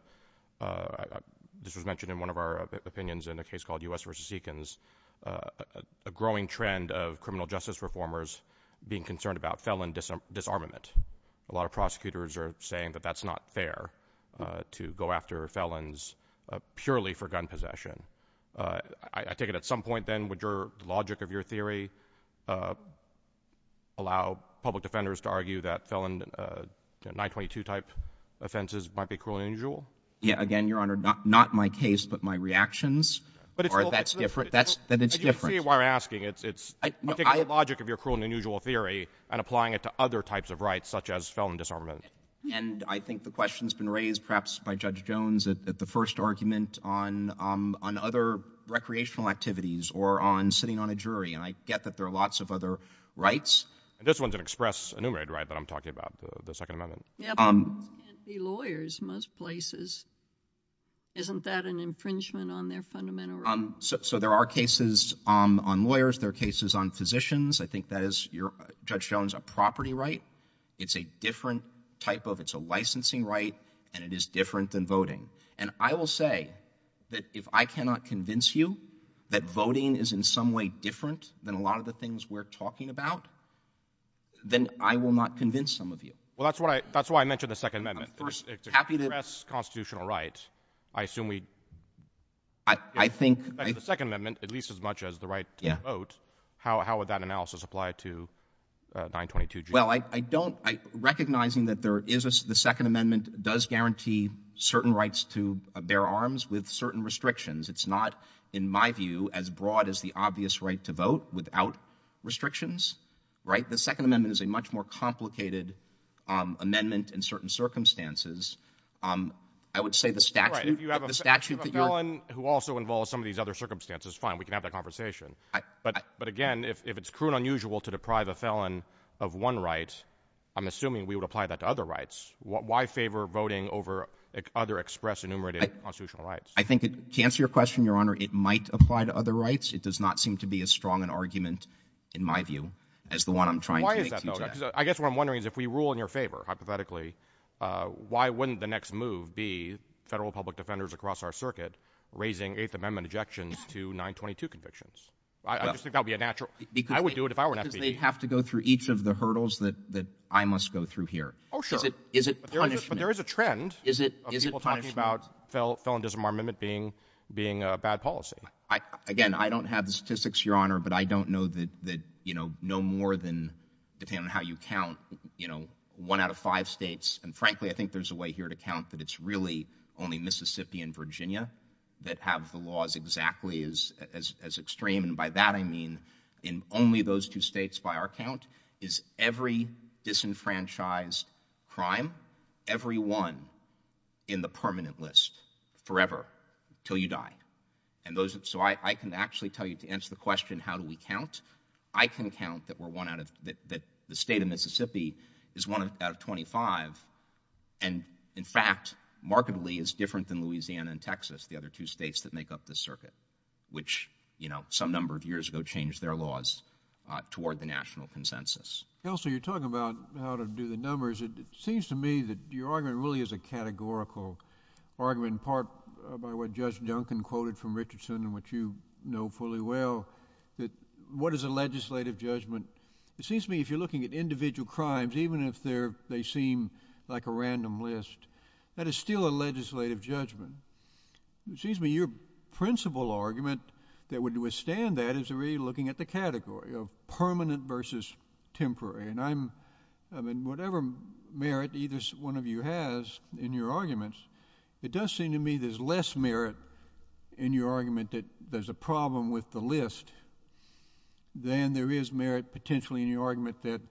this was mentioned in one of our opinions in a case called U.S. v. Seekins, a growing trend of criminal justice reformers being concerned about felon disarmament. A lot of prosecutors are saying that that's not fair to go after felons purely for gun possession. I take it at some point then, would your logic of your theory allow public defenders to argue that felon 922 type offenses might be cruel and unusual? Yeah, again, Your Honor, not my case, but my reactions are that's different, that it's different. But you see why I'm asking. It's, I'm taking the logic of your cruel and unusual theory and applying it to other types of rights, such as felon disarmament. And I think the question's been raised perhaps by Judge Jones at the first argument on, um, on other recreational activities or on sitting on a jury. And I get that there are lots of other rights. And this one's an express enumerated right that I'm talking about, the Second Amendment. Yeah, but felons can't be lawyers in most places. Isn't that an infringement on their fundamental rights? So there are cases, um, on lawyers. There are cases on physicians. I think that is, your, uh, Judge Jones, a property right. It's a different type of, it's a licensing right and it is different than voting. And I will say that if I cannot convince you that voting is in some way different than a lot of the things we're talking about, then I will not convince some of you. Well, that's what I, that's why I mentioned the Second Amendment. I'm happy to... It's an express constitutional right. I assume we... I think... The Second Amendment, at least as much as the right to vote, how, how would that analysis apply to, uh, 922G? Well, I, I don't, I, recognizing that there is a, the Second Amendment does guarantee certain rights to bear arms with certain restrictions. It's not, in my view, as broad as the obvious right to vote without restrictions, right? The Second Amendment is a much more complicated, um, amendment in certain circumstances. Um, I would say the statute... Right, if you have a felon who also involves some of these other circumstances, fine, we can have that conversation. I... But, but again, if, if it's cruel and unusual to deprive a felon of one right, I'm assuming we would apply that to other rights. Why, why favor voting over other express enumerated constitutional rights? I, I think it, to answer your question, Your Honor, it might apply to other rights. It does not seem to be as strong an argument, in my view, as the one I'm trying to make today. Well, why is that though? Because I guess what I'm wondering is if we rule in your favor, hypothetically, uh, why wouldn't the next move be federal public defenders across our Well, I just think that would be a natural... Because... I would do it if I were an FBI agent. Because they have to go through each of the hurdles that, that I must go through here. Oh, sure. Is it, is it punishment? But there is, but there is a trend... Is it, is it punishment? ...of people talking about fel, felon disarmament being, being a bad policy. I, again, I don't have the statistics, Your Honor, but I don't know that, that, you know, no more than depending on how you count, you know, one out of five states, and frankly, I think there's a way here to count that it's really only Mississippi and Virginia that have the laws exactly as, as, as extreme, and by that I mean in only those two states by our count is every disenfranchised crime, every one in the permanent list, forever, till you die. And those, so I, I can actually tell you to answer the question, how do we count? I can count that we're one out of, that, that the state of Mississippi is one out of 25, and in fact, markedly is different than Louisiana and Texas, the other two states that make up the circuit, which, you know, some number of years ago changed their laws toward the national consensus. Counselor, you're talking about how to do the numbers. It, it seems to me that your argument really is a categorical argument, in part by what Judge Duncan quoted from Richardson and which you know fully well, that what is a legislative judgment? It seems to me if you're looking at individual crimes, even if they're, they seem like a random list, that is still a legislative judgment. It seems to me your principal argument that would withstand that is really looking at the category of permanent versus temporary, and I'm, I mean, whatever merit either one of you has in your arguments, it does seem to me there's less merit in your argument that there's a problem with the list than there is merit potentially in your argument that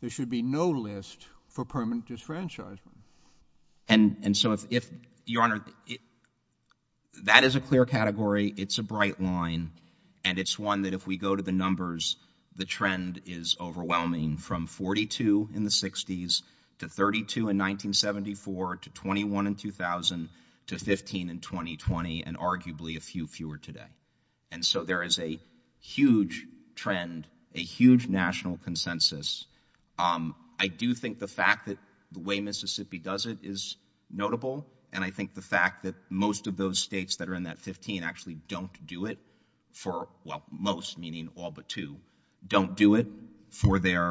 there should be no list for permanent disfranchisement. And, and so if, if, Your Honor, that is a clear category, it's a bright line, and it's one that if we go to the numbers, the trend is overwhelming from 42 in the 60s to 32 in 1974 to 21 in 2000 to 15 in 2020 and arguably a few fewer today. And so there is a huge trend, a huge national consensus. I do think the fact that the way Mississippi does it is notable, and I think the fact that most of those states that are in that 15 actually don't do it for, well, most, meaning all but two, don't do it for their,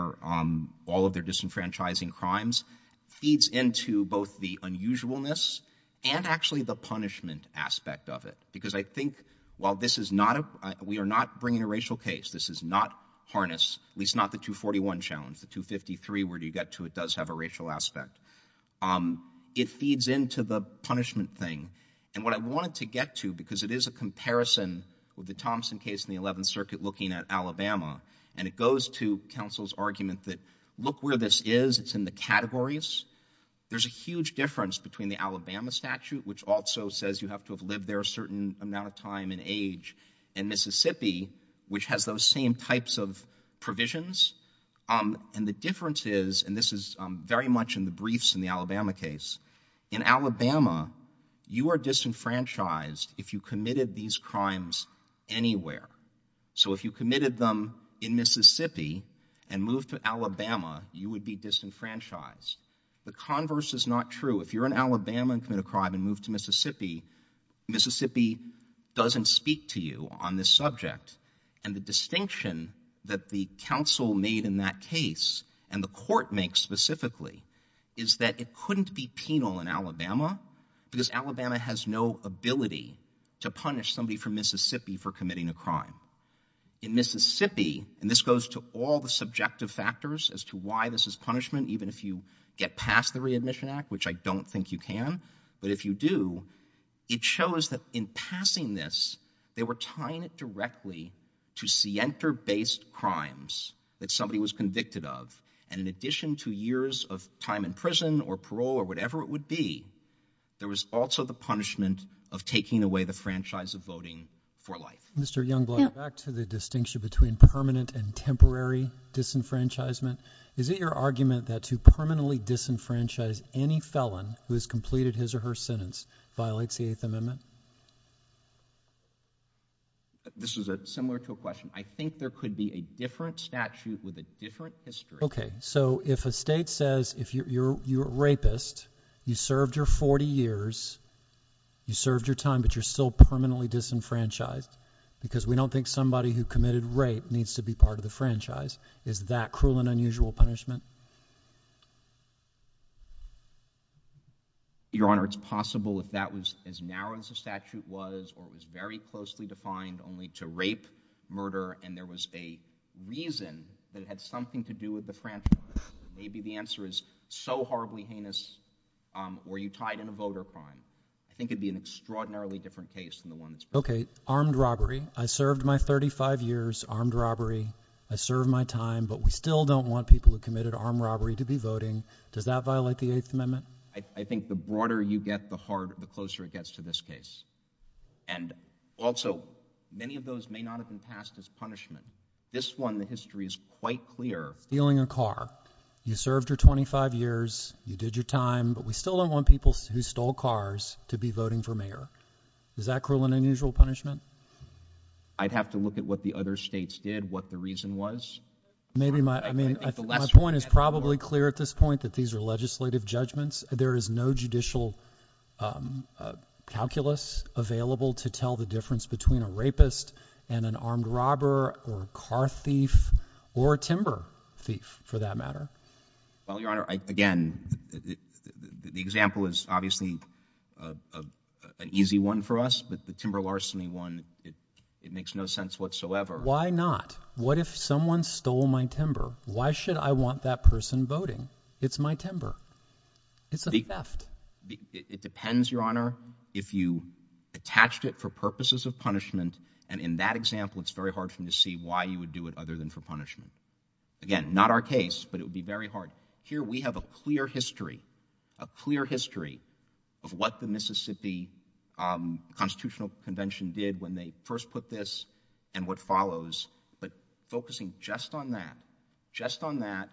all of their disenfranchising crimes feeds into both the unusualness and actually the punishment aspect of it. Because I think while this is not a, we are not bringing a racial case, this is not Harness, at least not the 241 challenge, the 253 where you get to it does have a racial aspect. It feeds into the punishment thing. And what I wanted to get to, because it is a comparison with the Thompson case in the 11th Circuit looking at Alabama, and it goes to counsel's argument that look where this is, it's in the categories. There's a huge difference between the Alabama statute, which also says you have to have lived there a certain amount of time and age, and Mississippi, which has those same types of provisions. And the difference is, and this is very much in the briefs in the Alabama case, in Alabama, you are disenfranchised if you committed these crimes anywhere. So if you committed them in Mississippi and moved to Alabama, you would be disenfranchised. The converse is not true. If you're in Alabama and committed a crime and moved to Mississippi, Mississippi doesn't speak to you on this subject. And the distinction that the counsel made in that case, and the court makes specifically, is that it couldn't be penal in Alabama, because Alabama has no ability to punish somebody from Mississippi for committing a crime. In Mississippi, and this goes to all the subjective factors as to why this is punishment, even if you get past the Readmission Act, which I don't think you can, but if you do, it shows that in passing this, they were tying it directly to scienter-based crimes that somebody was convicted of. And in addition to years of time in prison or parole or whatever it would be, there was also the punishment of taking away the franchise of voting for life. Mr. Youngblood, back to the distinction between permanent and temporary disenfranchisement, is it your argument that to permanently disenfranchise any felon who has completed his or her sentence violates the Eighth Amendment? This is similar to a question. I think there could be a different statute with a different history. Okay. So if a state says, if you're a rapist, you served your 40 years, you served your time, but you're still permanently disenfranchised, because we don't think somebody who committed Your Honor, it's possible if that was as narrow as the statute was, or it was very closely defined only to rape, murder, and there was a reason that it had something to do with the franchise. Maybe the answer is so horribly heinous, were you tied in a voter crime? I think it would be an extraordinarily different case than the one that's presented. Okay. Armed robbery. I served my 35 years armed robbery. I served my time, but we still don't want people who committed armed robbery to be voting. Does that violate the Eighth Amendment? I think the broader you get, the closer it gets to this case. And also, many of those may not have been passed as punishment. This one, the history is quite clear. Stealing a car. You served your 25 years, you did your time, but we still don't want people who stole cars to be voting for mayor. Is that cruel and unusual punishment? I'd have to look at what the other states did, what the reason was. My point is probably clear at this point, that these are legislative judgments. There is no judicial calculus available to tell the difference between a rapist and an armed robber, or a car thief, or a timber thief, for that matter. Well, Your Honor, again, the example is obviously an easy one for us, but the timber larceny one, it makes no sense whatsoever. Why not? What if someone stole my timber? Why should I want that person voting? It's my timber. It's a theft. It depends, Your Honor, if you attached it for purposes of punishment, and in that example it's very hard for me to see why you would do it other than for punishment. Again, not our case, but it would be very hard. Here we have a clear history, a clear history of what the Mississippi Constitutional Convention did when they first put this, and what follows, but focusing just on that, just on that,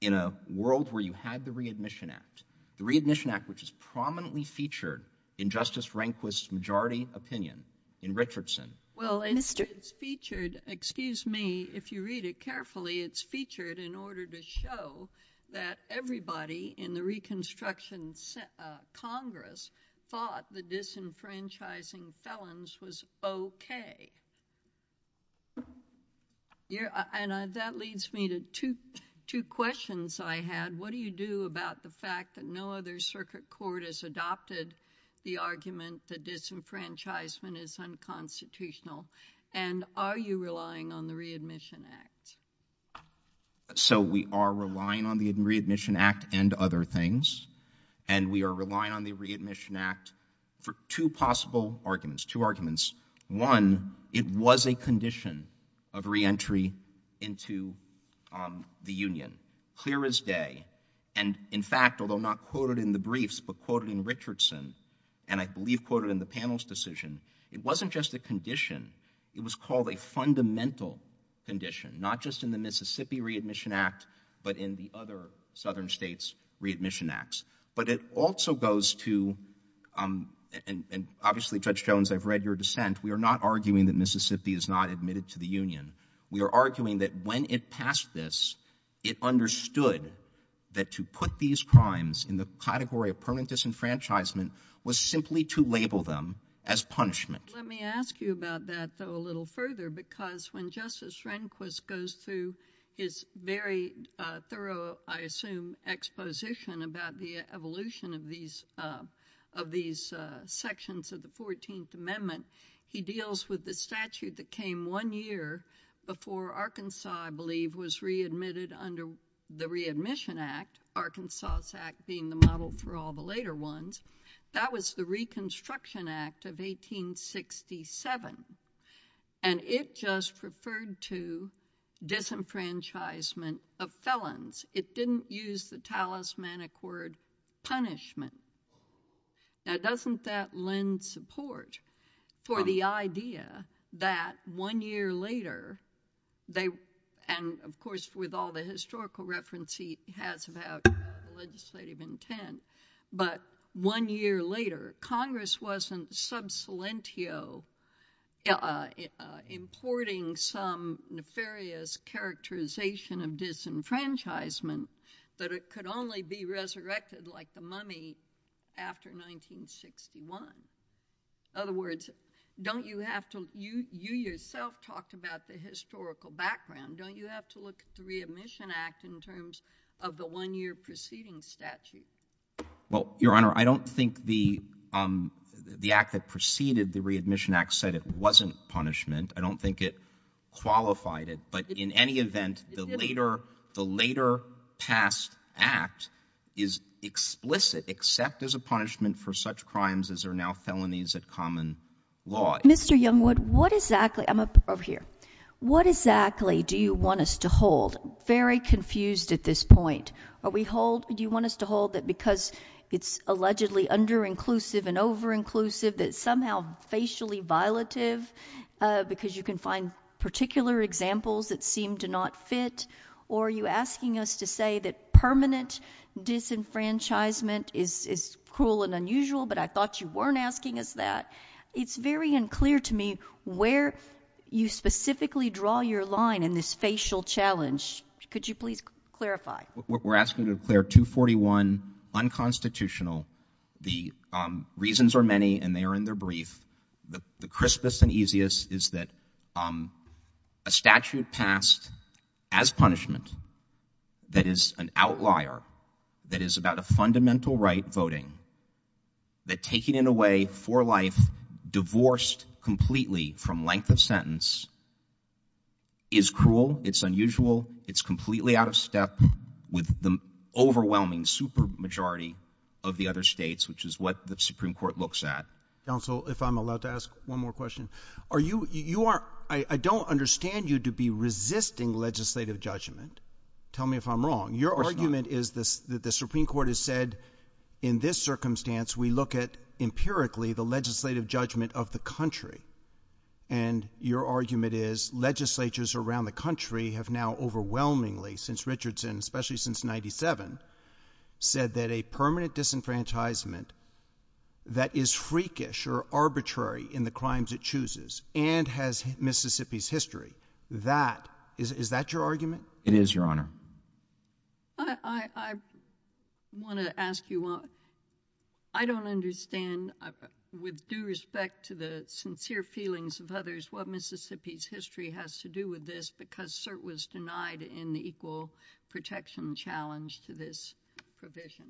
in a world where you had the Readmission Act, the Readmission Act, which is prominently featured in Justice Rehnquist's majority opinion in Richardson. Well, it's featured, excuse me, if you read it carefully, it's featured in order to show that everybody in the Reconstruction Congress thought the disenfranchising felons was okay. And that leads me to two questions I had. What do you do about the fact that no other circuit court has adopted the argument that disenfranchisement is unconstitutional, and are you relying on the Readmission Act? So, we are relying on the Readmission Act and other things, and we are relying on the Readmission Act for two possible arguments, two arguments. One, it was a condition of reentry into the Union, clear as day, and in fact, although not quoted in the briefs, but quoted in Richardson, and I believe quoted in the panel's decision, it wasn't just a condition, not just in the Mississippi Readmission Act, but in the other southern states' Readmission Acts. But it also goes to, and obviously, Judge Jones, I've read your dissent, we are not arguing that Mississippi is not admitted to the Union. We are arguing that when it passed this, it understood that to put these crimes in the category of permanent disenfranchisement was simply to label them as punishment. Let me ask you about that, though, a little further, because when Justice Rehnquist goes through his very thorough, I assume, exposition about the evolution of these sections of the 14th Amendment, he deals with the statute that came one year before Arkansas, I believe, was readmitted under the Readmission Act, Arkansas Act being the model for all the later ones. That was the Reconstruction Act of 1867, and it just referred to disenfranchisement of felons. It didn't use the talismanic word punishment. Now, doesn't that lend support for the idea that one year later, they, and of course, with all the historical reference he has about legislative intent, but one year later, Congress wasn't sub salientio importing some nefarious characterization of disenfranchisement that it could only be resurrected like the mummy after 1961? In other words, don't you have to, you yourself talked about the historical background. Don't you have to look at the Readmission Act in terms of the one-year preceding statute? MR. WELLS. Well, Your Honor, I don't think the act that preceded the Readmission Act said it wasn't punishment. I don't think it qualified it. But in any event, the later past act is explicit, except as a punishment for such crimes as are now felonies at common law. JUSTICE GINSBURG. Mr. Youngwood, what exactly do you want us to hold? I'm very confused at this point. Do you want us to hold that because it's allegedly under-inclusive and over-inclusive, that it's somehow facially violative because you can find particular examples that seem to not fit? Or are you asking us to say that permanent disenfranchisement is cruel and unusual, but I thought you weren't asking us that? It's very unclear to me where you specifically draw your line in this facial challenge. Could you please clarify? MR. YOUNGWOOD. We're asking to declare 241 unconstitutional. The reasons are many, and they are in their brief. The crispest and easiest is that a statute passed as punishment that is an outlier, that is about a fundamental right voting, that taken in a way for life, divorced completely from length of sentence, is cruel, it's unusual, it's completely out of step with the overwhelming supermajority of the other states, which is what the Supreme Court looks at. JUSTICE SCALIA. Counsel, if I'm allowed to ask one more question. Are you, you are, I mean, tell me if I'm wrong. MR. YOUNGWOOD. Of course not. JUSTICE SCALIA. Your argument is that the Supreme Court has said in this circumstance we look at empirically the legislative judgment of the country, and your argument is legislatures around the country have now overwhelmingly, since Richardson, especially since 1997, said that a permanent disenfranchisement that is freakish or arbitrary in the crimes it chooses and has Mississippi's history, that, is that your argument? MR. YOUNGWOOD. It is, Your Honor. JUSTICE SCALIA. I want to ask you, I don't understand, with due respect to the sincere feelings of others, what Mississippi's history has to do with this because cert was denied in the equal protection challenge to this provision.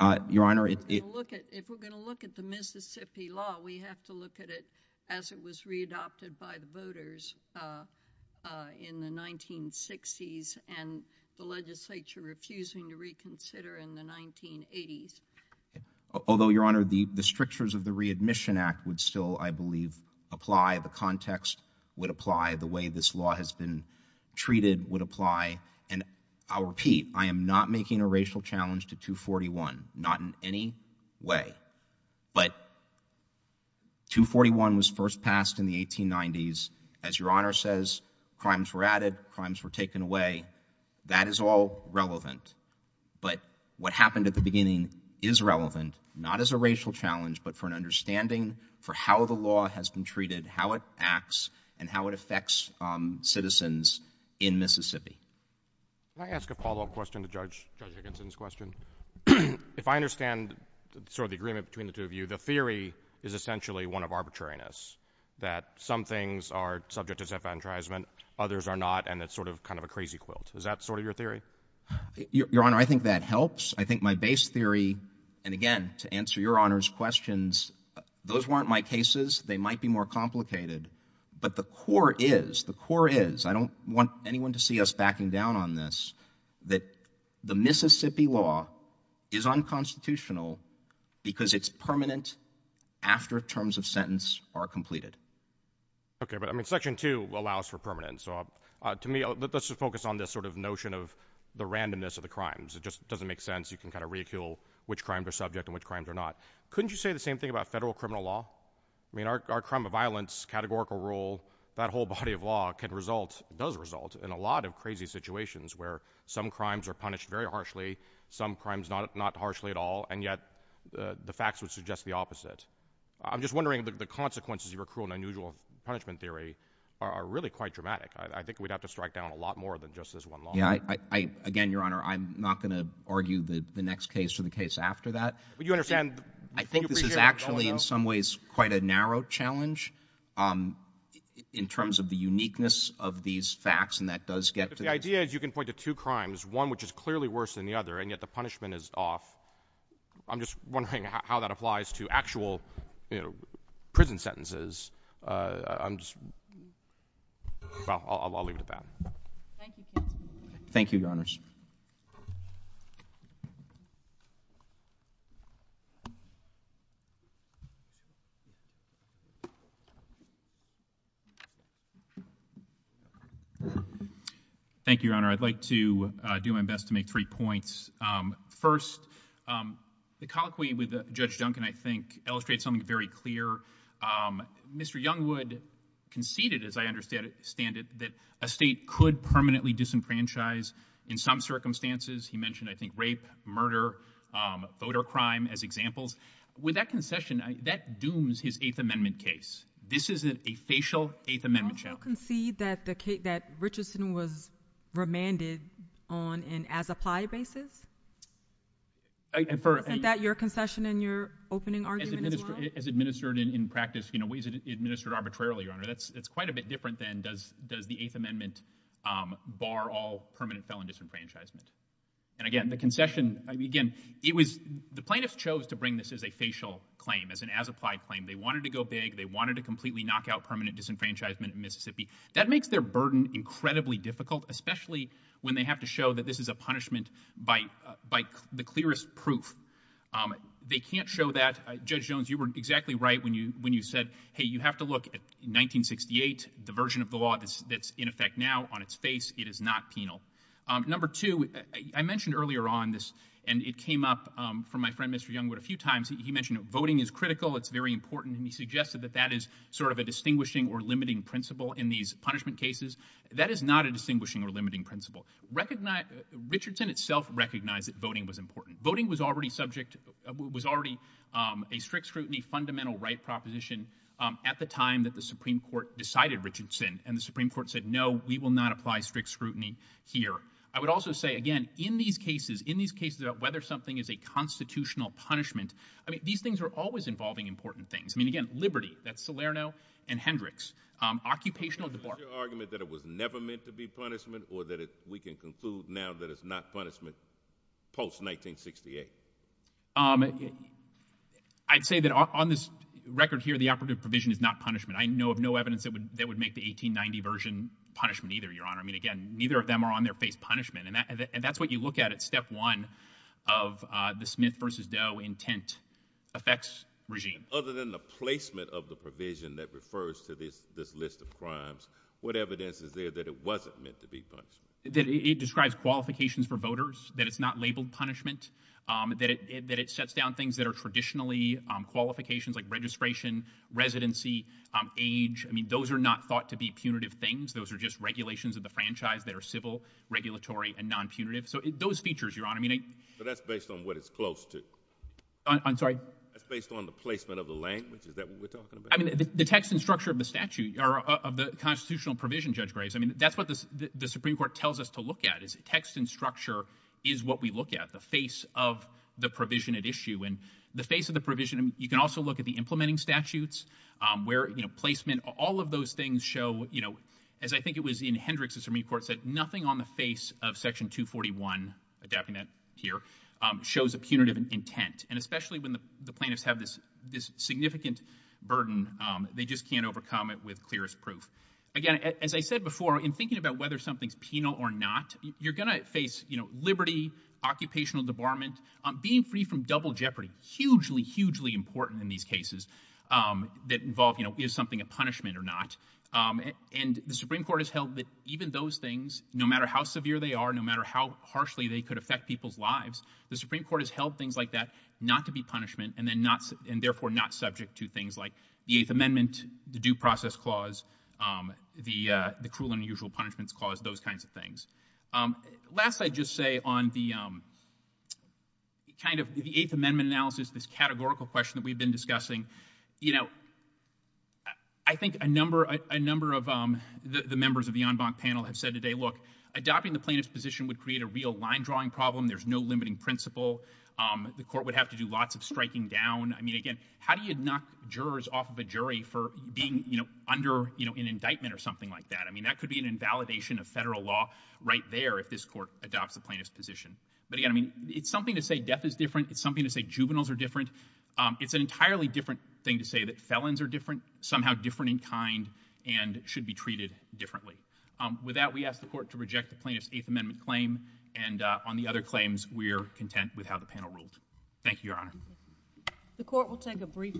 MR. YOUNGWOOD. Your Honor, it JUSTICE SCALIA. If we're going to look at the Mississippi law, we have to look at it because it was readopted by the voters in the 1960s and the legislature refusing to reconsider in the 1980s. MR. YOUNGWOOD. Although, Your Honor, the strictures of the Readmission Act would still, I believe, apply, the context would apply, the way this law has been treated would apply, and I'll first pass in the 1890s, as Your Honor says, crimes were added, crimes were taken away, that is all relevant. But what happened at the beginning is relevant, not as a racial challenge, but for an understanding for how the law has been treated, how it acts, and how it affects citizens in Mississippi. MR. CLEMENT. Can I ask a follow-up question to Judge Higginson's question? If I understand sort of the agreement between the two of you, the theory is essentially one of arbitrariness, that some things are subject to self-advertisement, others are not, and it's sort of kind of a crazy quilt. Is that sort of your theory? MR. YOUNGWOOD. Your Honor, I think that helps. I think my base theory, and again, to answer Your Honor's questions, those weren't my cases. They might be more complicated. But the core is, the core is, I don't want anyone to see us backing down on this, that the Mississippi law is unconstitutional because it's permanent after terms of sentence are completed. MR. CLEMENT. Okay. But, I mean, Section 2 allows for permanence. So to me, let's just focus on this sort of notion of the randomness of the crimes. It just doesn't make sense. You can kind of reoccule which crimes are subject and which crimes are not. Couldn't you say the same thing about federal criminal law? I mean, our crime of violence, categorical rule, that whole body of law can result, does result, in a lot of crazy situations where some crimes are punished very harshly, some crimes not harshly at all, and yet the facts would suggest the opposite. I'm just wondering if the consequences of your cruel and unusual punishment theory are really quite dramatic. I think we'd have to strike down a lot more than just this one law. MR. YOUNGWOOD. Yeah. I, again, Your Honor, I'm not going to argue the next case or the case after that. MR. CLEMENT. But you understand, you appreciate what's going on. MR. YOUNGWOOD. I think this is actually, in some ways, quite a narrow challenge in terms of crimes, one which is clearly worse than the other, and yet the punishment is off. I'm just wondering how that applies to actual, you know, prison sentences. I'm just, well, I'll leave it at that. MR. CLEMENT. Thank you, Your Honors. Thank you, Your Honor. I'd like to do my best to make three points. First, the colloquy with Judge Duncan, I think, illustrates something very clear. Mr. Youngwood conceded, as I understand it, that a state could permanently disenfranchise in some circumstances. He mentioned, I think, rape, murder, voter crime as examples. With that concession, that dooms his Eighth Amendment case. This is a facial Eighth Amendment challenge. MS. MCDOWELL. Don't you concede that the case, that Richardson was remanded on an as-applied basis? MR. YOUNGWOOD. And for— MS. MCDOWELL. Isn't that your concession in your opening argument as well? MR. YOUNGWOOD. As administered in practice, you know, ways it's administered arbitrarily, Your Honor. That's quite a bit different than does the Eighth Amendment bar all permanent felon disenfranchisement. And again, the concession, again, it was—the plaintiffs chose to bring this as a facial claim, as an as-applied claim. They wanted to go big. They wanted to completely knock out permanent disenfranchisement in Mississippi. That makes their burden incredibly difficult, especially when they have to show that this is a punishment by the clearest proof. They can't show that—Judge Jones, you were exactly right when you said, hey, you have to look at 1968, the version of the law that's in effect now on its face. It is not penal. Number two, I mentioned earlier on this, and it came up from my friend, Mr. Youngwood, a few times. He mentioned voting is critical, it's very important, and he suggested that that is sort of a distinguishing or limiting principle in these punishment cases. That is not a distinguishing or limiting principle. Recognize—Richardson itself recognized that voting was important. Voting was already subject—was already a strict scrutiny, fundamental right proposition at the time that the Supreme Court decided Richardson, and the Supreme Court said, no, we will not apply strict scrutiny here. I would also say, again, in these cases, in these cases about whether something is a constitutional punishment, I mean, these things are always involving important things. I mean, again, liberty. That's Salerno and Hendricks. Occupational debar— Is your argument that it was never meant to be punishment or that we can conclude now that it's not punishment post-1968? I'd say that on this record here, the operative provision is not punishment. I know of no evidence that would make the 1890 version punishment either, Your Honor. I mean, again, neither of them are on their face punishment, and that's what you look at at step one of the Smith v. Doe intent effects regime. Other than the placement of the provision that refers to this list of crimes, what evidence is there that it wasn't meant to be punishment? That it describes qualifications for voters, that it's not labeled punishment, that it sets down things that are traditionally qualifications like registration, residency, age. I mean, those are not thought to be punitive things. Those are just regulations of the franchise that are civil, regulatory, and non-punitive. So those features, Your Honor, I mean— But that's based on what it's close to. I'm sorry? That's based on the placement of the language. Is that what we're talking about? I mean, the text and structure of the statute, or of the constitutional provision, Judge tells us to look at is text and structure is what we look at, the face of the provision at issue. And the face of the provision, you can also look at the implementing statutes where, you know, placement, all of those things show, you know, as I think it was in Hendricks Supreme Court said, nothing on the face of Section 241, adapting that here, shows a punitive intent. And especially when the plaintiffs have this significant burden, they just can't overcome it with clearest proof. Again, as I said before, in thinking about whether something's penal or not, you're going to face, you know, liberty, occupational debarment, being free from double jeopardy, hugely, hugely important in these cases that involve, you know, is something a punishment or not? And the Supreme Court has held that even those things, no matter how severe they are, no matter how harshly they could affect people's lives, the Supreme Court has held things like that not to be punishment and then not—and therefore not subject to things like the Eighth Amendment, the Due Process Clause, the Cruel and Unusual Punishments Clause, those kinds of things. Last, I'd just say on the kind of the Eighth Amendment analysis, this categorical question that we've been discussing, you know, I think a number of the members of the en banc panel have said today, look, adopting the plaintiff's position would create a real line-drawing problem. There's no limiting principle. The court would have to do lots of striking down. I mean, again, how do you knock jurors off of a jury for being, you know, under, you know, an indictment or something like that? I mean, that could be an invalidation of federal law right there if this court adopts the plaintiff's position. But again, I mean, it's something to say death is different. It's something to say juveniles are different. It's an entirely different thing to say that felons are different, somehow different in kind and should be treated differently. With that, we ask the court to reject the plaintiff's Eighth Amendment claim and on the other claims, we're content with how the panel ruled. Thank you, Your Honor. The court will take a brief recess.